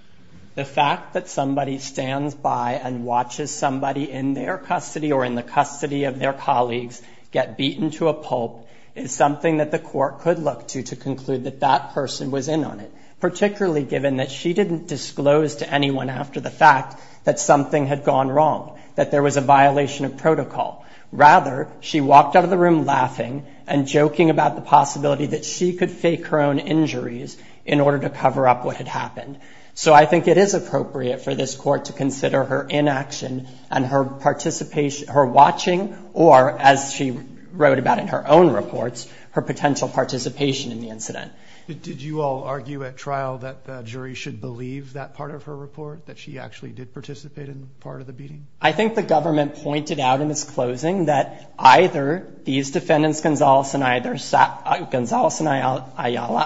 The fact that somebody stands by and watches somebody in their custody or in the custody of their colleagues get beaten to a pulp is something that the court could look to to conclude that that person was in on it, particularly given that she didn't disclose to anyone after the fact that something had gone wrong, that there was a violation of protocol. Rather, she walked out of the room laughing and joking about the possibility that she could fake her own injuries in order to cover up what had happened. So I think it is appropriate for this court to consider her inaction and her participation, her watching, or as she wrote about in her own reports, her potential participation in the incident. Did you all argue at trial that the jury should believe that part of her report, that she actually did participate in part of the beating? I think the government pointed out in its closing that either these defendants, Gonzalez and Ayala,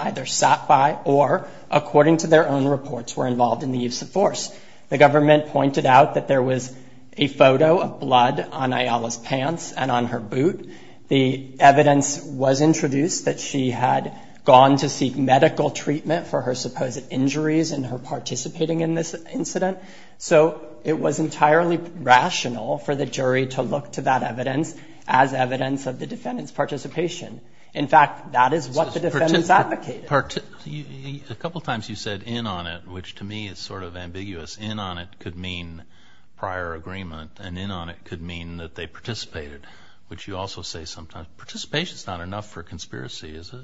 either sat by or, according to their own reports, were involved in the use of force. The government pointed out that there was a photo of blood on Ayala's pants and on her boot. The evidence was introduced that she had gone to seek medical treatment for her supposed injuries and her participating in this incident. So it was entirely rational for the jury to look to that evidence as evidence of the defendant's participation. In fact, that is what the defendants advocated. A couple of times you said, in on it, which to me is sort of ambiguous. In on it could mean prior agreement and in on it could mean that they participated, which you also say sometimes. Participation is not enough for conspiracy, is it?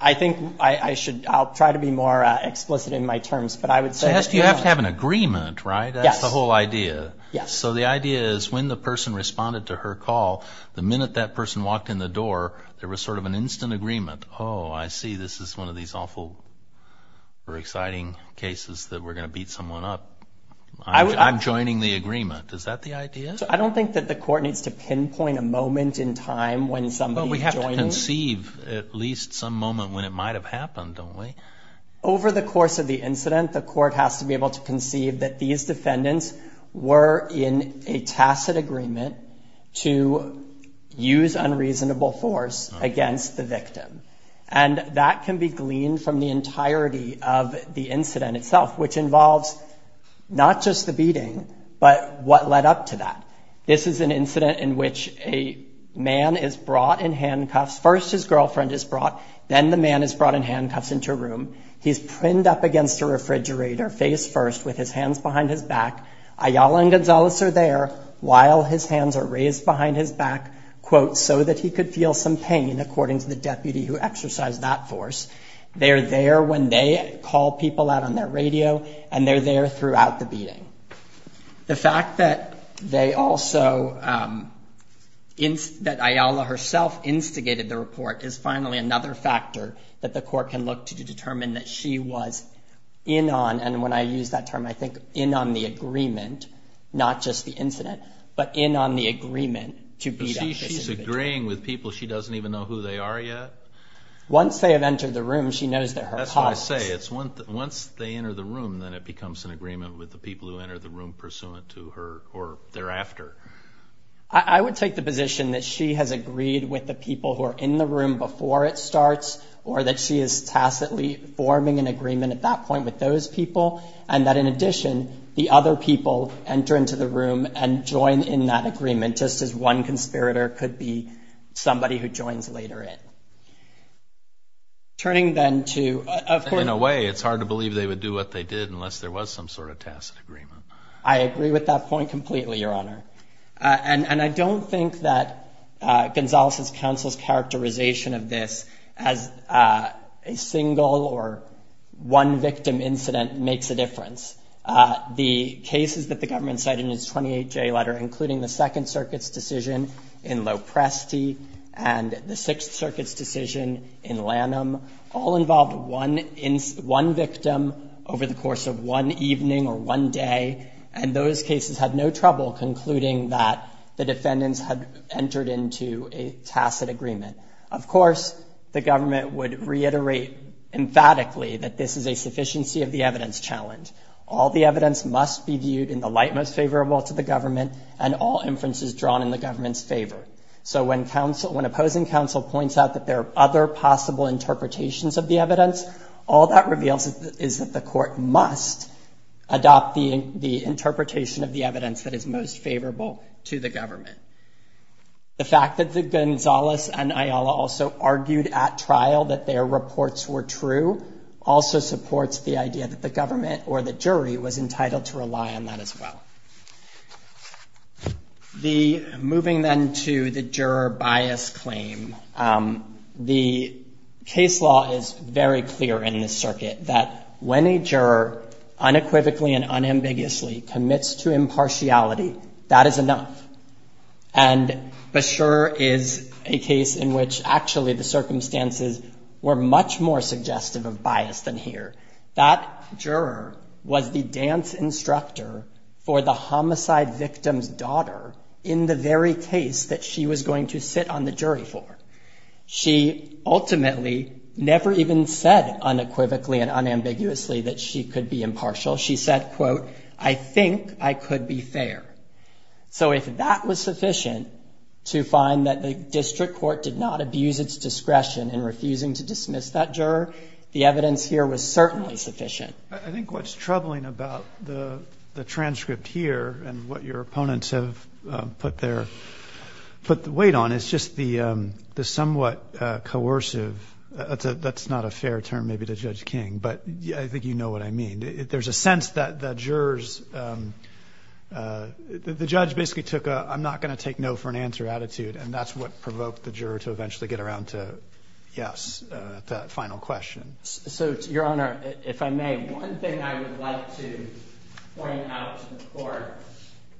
I think I should try to be more explicit in my terms. But I would say you have to have an agreement, right? That's the whole idea. Yes. So the idea is when the person responded to her call, the minute that person walked in the door, there was sort of an instant agreement. Oh, I see. This is one of these awful, very exciting cases that we're going to beat someone up. I'm joining the agreement. Is that the idea? I don't think that the court needs to pinpoint a moment in time when somebody joins. But we have to conceive at least some moment when it might have happened, don't we? Over the course of the incident, the court has to be able to conceive that these defendants were in a tacit agreement to use unreasonable force against the victim. And that can be gleaned from the entirety of the incident itself, which involves not just the beating, but what led up to that. This is an incident in which a man is brought in handcuffs. First, his girlfriend is brought. Then the man is brought in handcuffs into a room. He's pinned up against a refrigerator, face first, with his hands behind his back. Ayala and Gonzalez are there while his hands are raised behind his back, quote, so that he could feel some pain, according to the deputy who exercised that force. They're there when they call people out on that radio, and they're there throughout the beating. The fact that they also, that Ayala herself instigated the report is finally another factor that the court can look to determine that she was in on, and when I use that term, I think in on the agreement, not just the incident, but in on the agreement to beat up this individual. She's agreeing with people. She doesn't even know who they are yet. Once they have entered the room, she knows that her... Once they enter the room, then it becomes an agreement with the people who enter the room pursuant to her or thereafter. I would take the position that she has agreed with the people who are in the room before it starts, or that she is tacitly forming an agreement at that point with those people, and that in addition, the other people enter into the room and join in that agreement, just as one conspirator could be somebody who joins later in. Turning then to... In a way, it's hard to believe they would do what they did unless there was some sort of tacit agreement. I agree with that point completely, Your Honor, and I don't think that Gonzales' counsel's characterization of this as a single or one victim incident makes a difference. The cases that the government said in its 28-J letter, including the Second Circuit's decision in Lopresti and the Sixth Circuit's decision in Lanham, all involved one victim over the course of one evening or one day, and those cases had no trouble concluding that the defendants had entered into a tacit agreement. Of course, the government would reiterate emphatically that this is a sufficiency of the evidence challenge. All the evidence must be viewed in the light most favorable to the government and all inferences drawn in the government's favor. So when opposing counsel points out that there are other possible interpretations of the evidence, all that reveals is that the court must adopt the interpretation of the evidence that is most favorable to the government. The fact that Gonzales and Ayala also argued at trial that their reports were true also supports the idea that the government or the jury was entitled to rely on that as well. Moving then to the juror bias claim, the case law is very clear in this circuit that when a juror unequivocally and unambiguously commits to impartiality, that is enough. And for sure is a case in which actually the circumstances were much more suggestive of bias than here. That juror was the dance instructor for the homicide victim's daughter in the very case that she was going to sit on the jury for. She ultimately never even said unequivocally and unambiguously that she could be impartial. She said, quote, I think I could be fair. So if that was sufficient to find that the district court did not abuse its discretion in refusing to dismiss that juror, the evidence here was certainly sufficient. I think what's troubling about the transcript here and what your opponents have put their weight on is just the somewhat coercive. That's not a fair term, maybe to Judge King, but I think you know what I mean. There's a sense that the jurors, the judge basically took a I'm not going to take no for an answer attitude. And that's what provoked the juror to eventually get around to, yes, the final question. So, Your Honor, if I may. One thing I would like to point out to the court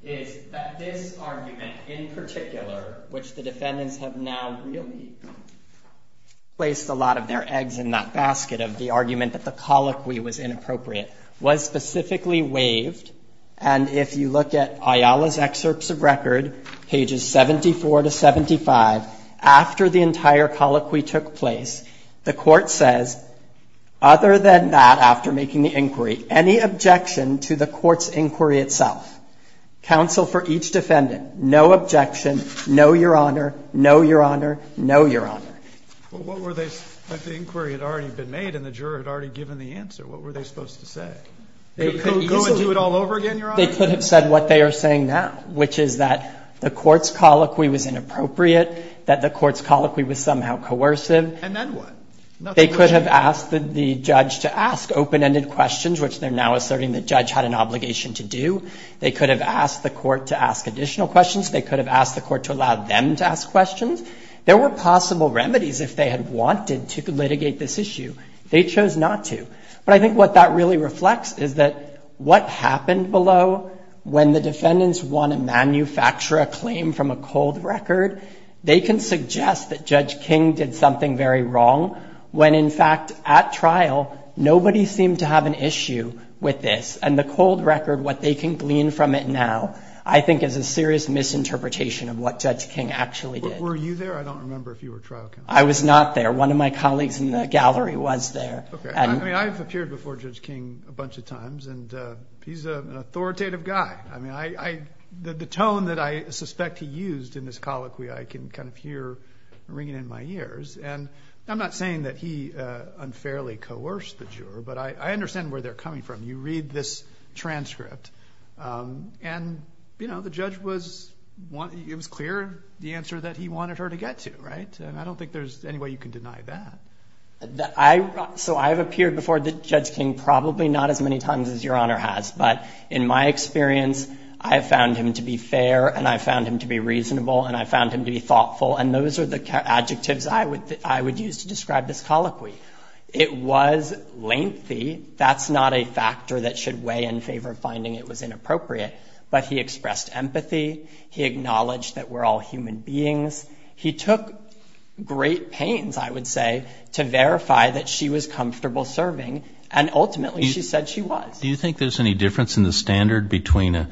is that his argument in particular, which the defendants have now really placed a lot of their eggs in that basket of the argument that the colloquy was inappropriate, was specifically waived. And if you look at Ayala's excerpts of record, pages 74 to 75, after the entire colloquy took place, the court says, other than that, after making the inquiry, any objection to the court's inquiry itself. Counsel for each defendant. No objection. No, Your Honor. No, Your Honor. No, Your Honor. But the inquiry had already been made and the juror had already given the answer. What were they supposed to say? Go and do it all over again, Your Honor? They could have said what they are saying now, which is that the court's colloquy was inappropriate, that the court's colloquy was somehow coercive. And then what? They could have asked the judge to ask open-ended questions, which they're now asserting the judge had an obligation to do. They could have asked the court to ask additional questions. They could have asked the court to allow them to ask questions. There were possible remedies if they had wanted to litigate this issue. They chose not to. But I think what that really reflects is that what happened below, when the defendants want to manufacture a claim from a cold record, they can suggest that Judge King did something very wrong, when, in fact, at trial, nobody seemed to have an issue with this. And the cold record, what they can glean from it now, I think, is a serious misinterpretation of what Judge King actually did. Were you there? I don't remember if you were trial counsel. I was not there. One of my colleagues in the gallery was there. Okay. I mean, I've appeared before Judge King a bunch of times, and he's an authoritative guy. I mean, the tone that I suspect he used in his colloquy, I can kind of hear ringing in my ears. And I'm not saying that he unfairly coerced the juror, but I understand where they're coming from. You read this transcript. And, you know, the judge was clear the answer that he wanted her to get to, right? And I don't think there's any way you can deny that. So I've appeared before Judge King probably not as many times as Your Honor has. But in my experience, I have found him to be fair, and I found him to be reasonable, and I found him to be thoughtful. And those are the adjectives I would use to describe this colloquy. It was lengthy. That's not a factor that should weigh in favor of finding it was inappropriate. But he expressed empathy. He acknowledged that we're all human beings. He took great pains, I would say, to verify that she was comfortable serving. And, ultimately, she said she was. Do you think there's any difference in the standard between a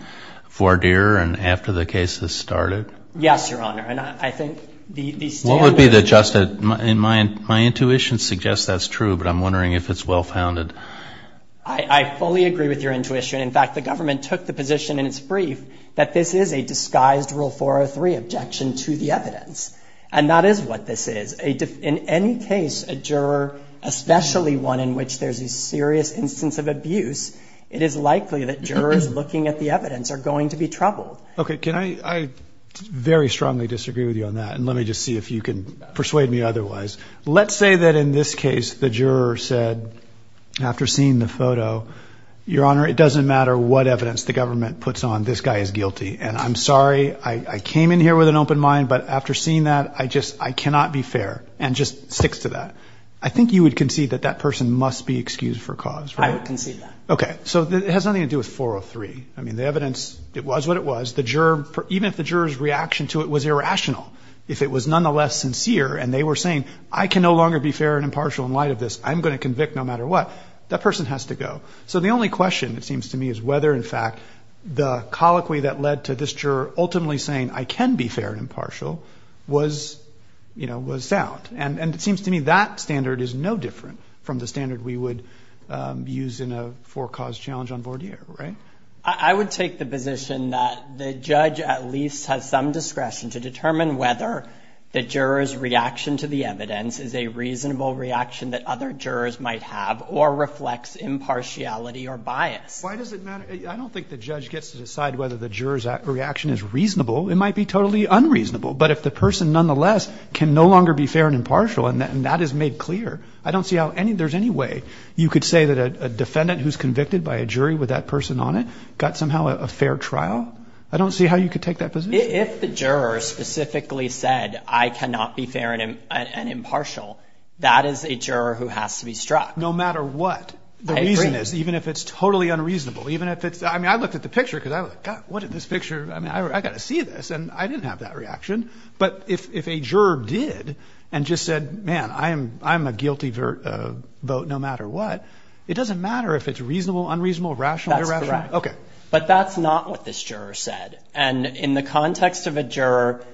four-deer and after the case has started? Yes, Your Honor. And I think the standard... What would be the...my intuition suggests that's true, but I'm wondering if it's well-founded. I fully agree with your intuition. In fact, the government took the position in its brief that this is a disguised Rule 403 objection to the evidence. And that is what this is. In any case, a juror, especially one in which there's a serious instance of abuse, it is likely that jurors looking at the evidence are going to be troubled. Okay. I very strongly disagree with you on that. And let me just see if you can persuade me otherwise. Let's say that, in this case, the juror said, after seeing the photo, Your Honor, it doesn't matter what evidence the government puts on, this guy is guilty. And I'm sorry. I came in here with an open mind. But after seeing that, I just...I cannot be fair and just stick to that. I think you would concede that that person must be excused for cause, right? I would concede that. Okay. So it has nothing to do with 403. I mean, the evidence, it was what it was. Even if the juror's reaction to it was irrational, if it was nonetheless sincere and they were saying, I can no longer be fair and impartial in light of this. I'm going to convict no matter what. That person has to go. So the only question, it seems to me, is whether, in fact, the colloquy that led to this juror ultimately saying, I can be fair and impartial was found. And it seems to me that standard is no different from the standard we would use in a four-cause challenge on Bordier, right? I would take the position that the judge at least has some discretion to determine whether the juror's reaction to the evidence is a reasonable reaction that other jurors might have or reflects impartiality or bias. Why does it matter? I don't think the judge gets to decide whether the juror's reaction is reasonable. It might be totally unreasonable. But if the person nonetheless can no longer be fair and impartial, and that is made clear, I don't see how there's any way you could say that a defendant who's convicted by a jury with that person on it got somehow a fair trial. I don't see how you could take that position. If the juror specifically said, I cannot be fair and impartial, that is a juror who has to be struck. No matter what. The reason is, even if it's totally unreasonable, even if it's – I mean, I looked at the picture because I was like, God, what did this picture – I mean, I've got to see this. And I didn't have that reaction. But if a juror did and just said, man, I'm a guilty vote no matter what, it doesn't matter if it's reasonable, unreasonable, rational. That's correct. Okay. But that's not what this juror said. And in the context of a juror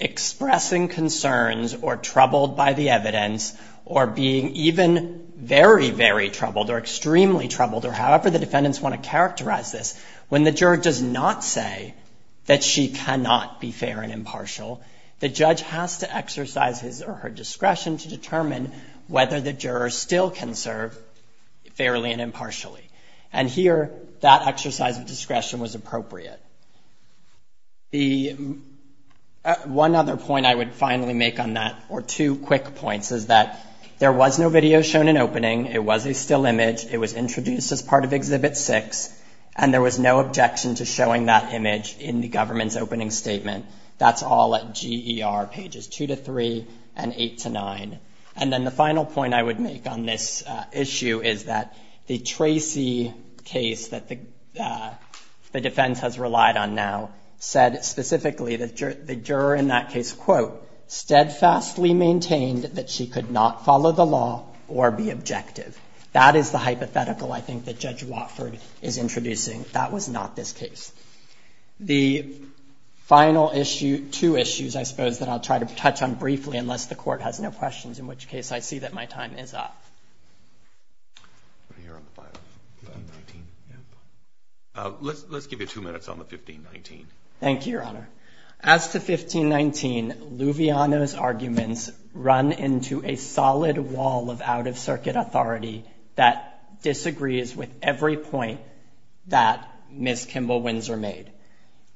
expressing concerns or troubled by the evidence or being even very, very troubled or extremely troubled or however the defendants want to characterize this, when the juror does not say that she cannot be fair and impartial, the judge has to exercise his or her discretion to determine whether the juror still can serve fairly and impartially. And here, that exercise of discretion was appropriate. The – one other point I would finally make on that, or two quick points, is that there was no video shown in opening. It was a still image. It was introduced as part of Exhibit 6. And there was no objection to showing that image in the government's opening statement. That's all at GER, pages 2 to 3 and 8 to 9. And then the final point I would make on this issue is that the Tracy case that the defense has relied on now said specifically that the juror in that case, quote, steadfastly maintained that she could not follow the law or be objective. That is the hypothetical, I think, that Judge Watford is introducing. That was not this case. The final issue – two issues, I suppose, that I'll try to touch on briefly, unless the Court has no questions, in which case I see that my time is up. Let's give you two minutes on the 1519. Thank you, Your Honor. As to 1519, Luviano's arguments run into a solid wall of out-of-circuit authority that disagrees with every point that Ms. Kimball Windsor made.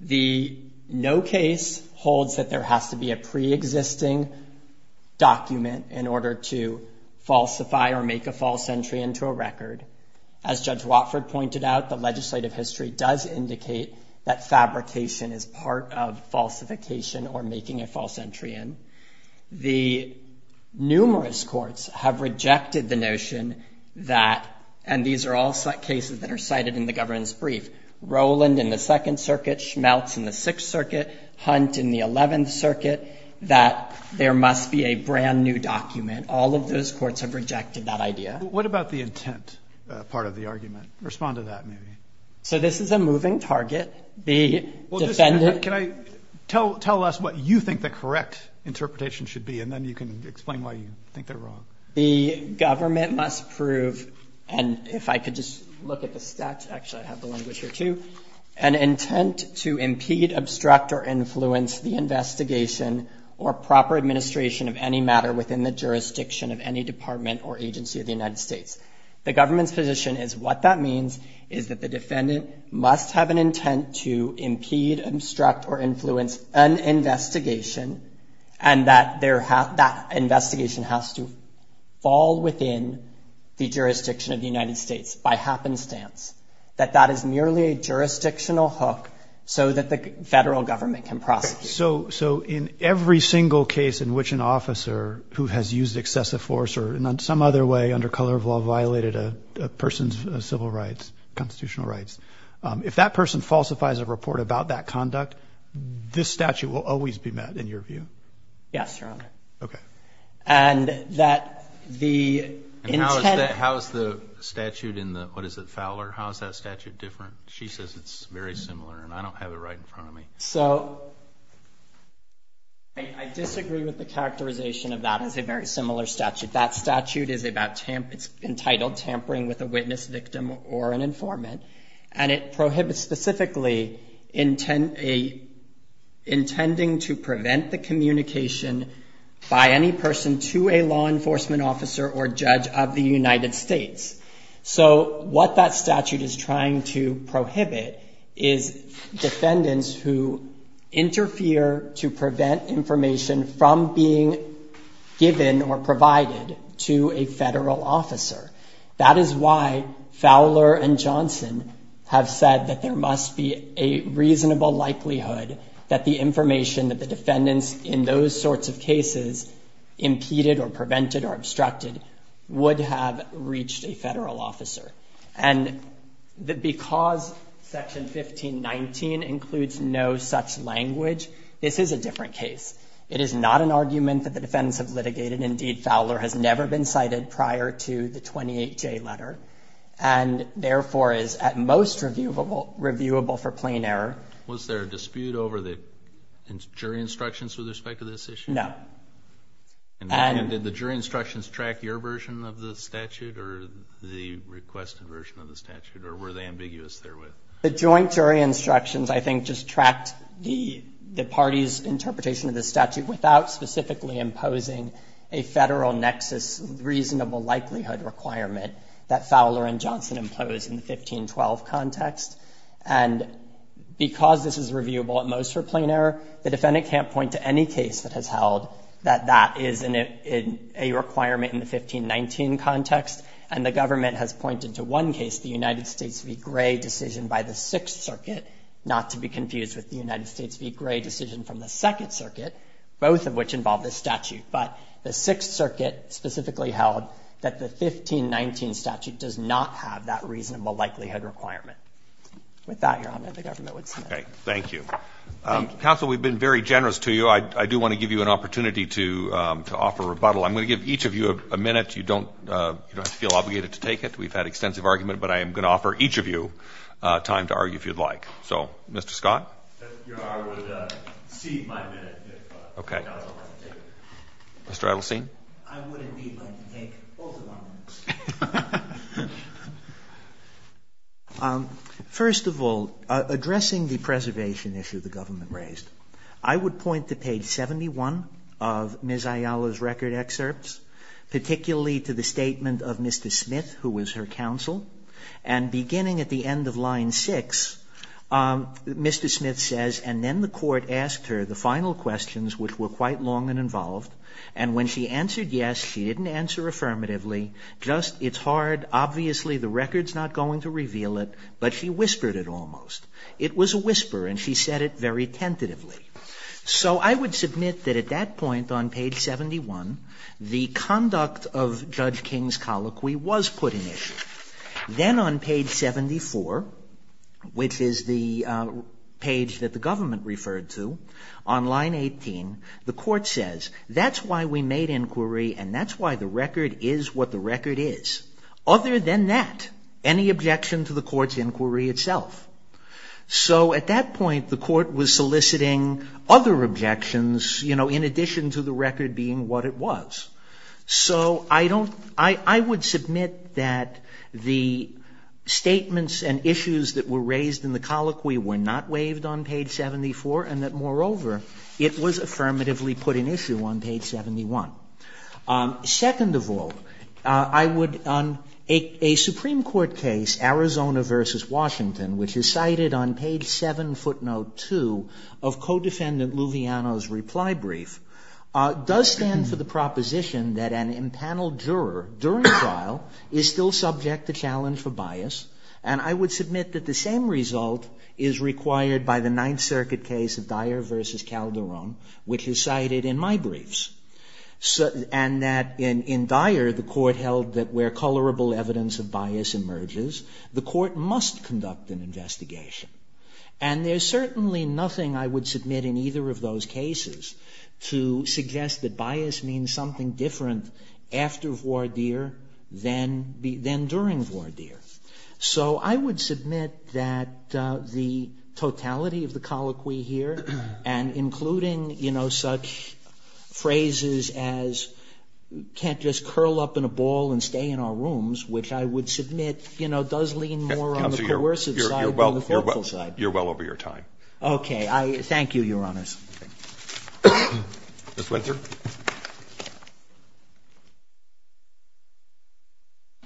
The no case holds that there has to be a preexisting document in order to falsify or make a false entry into a record. As Judge Watford pointed out, the legislative history does indicate that fabrication is part of falsification or making a false entry in. The numerous courts have rejected the notion that – and these are all cases that are cited in the governance brief – Rowland in the Second Circuit, Schmeltz in the Sixth Circuit, Hunt in the Eleventh Circuit, that there must be a brand-new document. All of those courts have rejected that idea. What about the intent part of the argument? Respond to that, maybe. So this is a moving target. Can I – tell us what you think the correct interpretation should be, and then you can explain why you think they're wrong. The government must prove – and if I could just look at the stats, actually I have the language here too – an intent to impede, obstruct, or influence the investigation or proper administration of any matter within the jurisdiction of any department or agency of the United States. The government's position is what that means is that the defendant must have an intent to impede, obstruct, or influence an investigation and that that investigation has to fall within the jurisdiction of the United States by happenstance, that that is merely a jurisdictional hook so that the federal government can prosecute. So in every single case in which an officer who has used excessive force or in some other way under color of law violated a person's civil rights, constitutional rights, if that person falsifies a report about that conduct, this statute will always be met in your view? Yes, Your Honor. Okay. And that the – And how is the statute in the – what is it, Fowler? How is that statute different? She says it's very similar and I don't have it right in front of me. So I disagree with the characterization of that as a very similar statute. That statute is entitled tampering with a witness, victim, or an informant and it prohibits specifically intending to prevent the communication by any person to a law enforcement officer or judge of the United States. So what that statute is trying to prohibit is defendants who interfere to prevent information from being given or provided to a federal officer. That is why Fowler and Johnson have said that there must be a reasonable likelihood that the information that the defendants in those sorts of cases impeded or prevented or obstructed would have reached a federal officer. And because Section 1519 includes no such language, this is a different case. It is not an argument that the defendants have litigated. Indeed, Fowler has never been cited prior to the 28J letter and therefore is at most reviewable for plain error. Was there a dispute over the jury instructions with respect to this issue? No. And did the jury instructions track your version of the statute or the requested version of the statute or were they ambiguous therewith? The joint jury instructions, I think, just tracked the party's interpretation of the statute without specifically imposing a federal nexus reasonable likelihood requirement that Fowler and Johnson imposed in the 1512 context. And because this is reviewable at most for plain error, the defendant can't point to any case that has held that that is a requirement in the 1519 context and the government has pointed to one case, the United States v. Gray decision by the 6th Circuit, not to be confused with the United States v. Gray decision from the 2nd Circuit, both of which involve this statute. But the 6th Circuit specifically held that the 1519 statute does not have that reasonable likelihood requirement. With that, Your Honor, the government would close. Thank you. Counsel, we've been very generous to you. I do want to give you an opportunity to offer rebuttal. I'm going to give each of you a minute. You don't have to feel obligated to take it. We've had extensive argument, but I am going to offer each of you time to argue if you'd like. So, Mr. Scott? Your Honor, I would cede my minute to Mr. Scott. Okay. Mr. Evelstein? I would indeed like to take both of my minutes. First of all, addressing the preservation issue the government raised, I would point to page 71 of Ms. Ayala's record excerpts, particularly to the statement of Mr. Smith, who was her counsel, and beginning at the end of line 6, Mr. Smith says, and then the court asked her the final questions, which were quite long and involved, and when she answered yes, she didn't answer affirmatively, just, it's hard, obviously the record's not going to reveal it, but she whispered it almost. It was a whisper, and she said it very tentatively. So, I would submit that at that point on page 71, the conduct of Judge King's colloquy was put in issue. Then on page 74, which is the page that the government referred to, on line 18, the court says, that's why we made inquiry, and that's why the record is what the record is. Other than that, any objection to the court's inquiry itself? So, at that point, the court was soliciting other objections, you know, in addition to the record being what it was. So, I would submit that the statements and issues that were raised in the colloquy were not waived on page 74, and that, moreover, it was affirmatively put in issue on page 71. Second of all, I would, on a Supreme Court case, Arizona v. Washington, which is cited on page 7, footnote 2, of co-defendant Luviano's reply brief, does stand for the proposition that an empaneled juror, during trial, is still subject to challenge for bias, and I would submit that the same result is required by the Ninth Circuit case of Dyer v. Calderon, which is cited in my briefs, and that, in Dyer, the court held that where colorable evidence of bias emerges, the court must conduct an investigation. And there's certainly nothing, I would submit, in either of those cases to suggest that bias means something different after voir dire than during voir dire. So, I would submit that the totality of the colloquy here, and including, you know, such phrases as, can't just curl up in a ball and stay in our rooms, which I would submit, you know, does lean more on the coercive side than the helpful side. You're well over your time. Okay, thank you, Your Honor. Ms. Winter.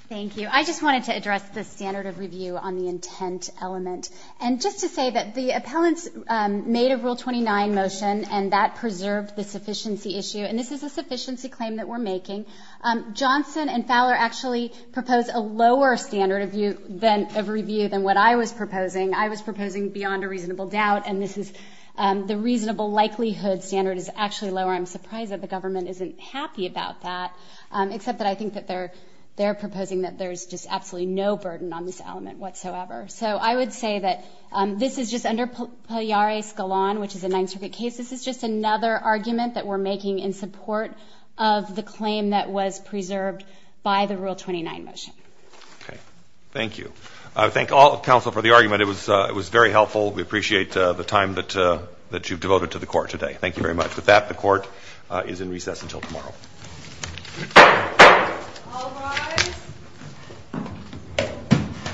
Thank you. I just wanted to address the standard of review on the intent element. And just to say that the appellants made a Rule 29 motion, and that preserved the sufficiency issue, and this is a sufficiency claim that we're making. Johnson and Fowler actually proposed a lower standard of review than what I was proposing. I was proposing beyond a reasonable doubt, and this is the reasonable likelihood standard is actually lower. I'm surprised that the government isn't happy about that, except that I think that they're proposing that there's just absolutely no burden on this element whatsoever. So I would say that this is just under Pelliari-Scalon, which is a nontrivial case. This is just another argument that we're making in support of the claim that was preserved by the Rule 29 motion. Thank you. I thank all of counsel for the argument. It was very helpful. We appreciate the time that you've devoted to the court today. Thank you very much. With that, the court is in recess until tomorrow.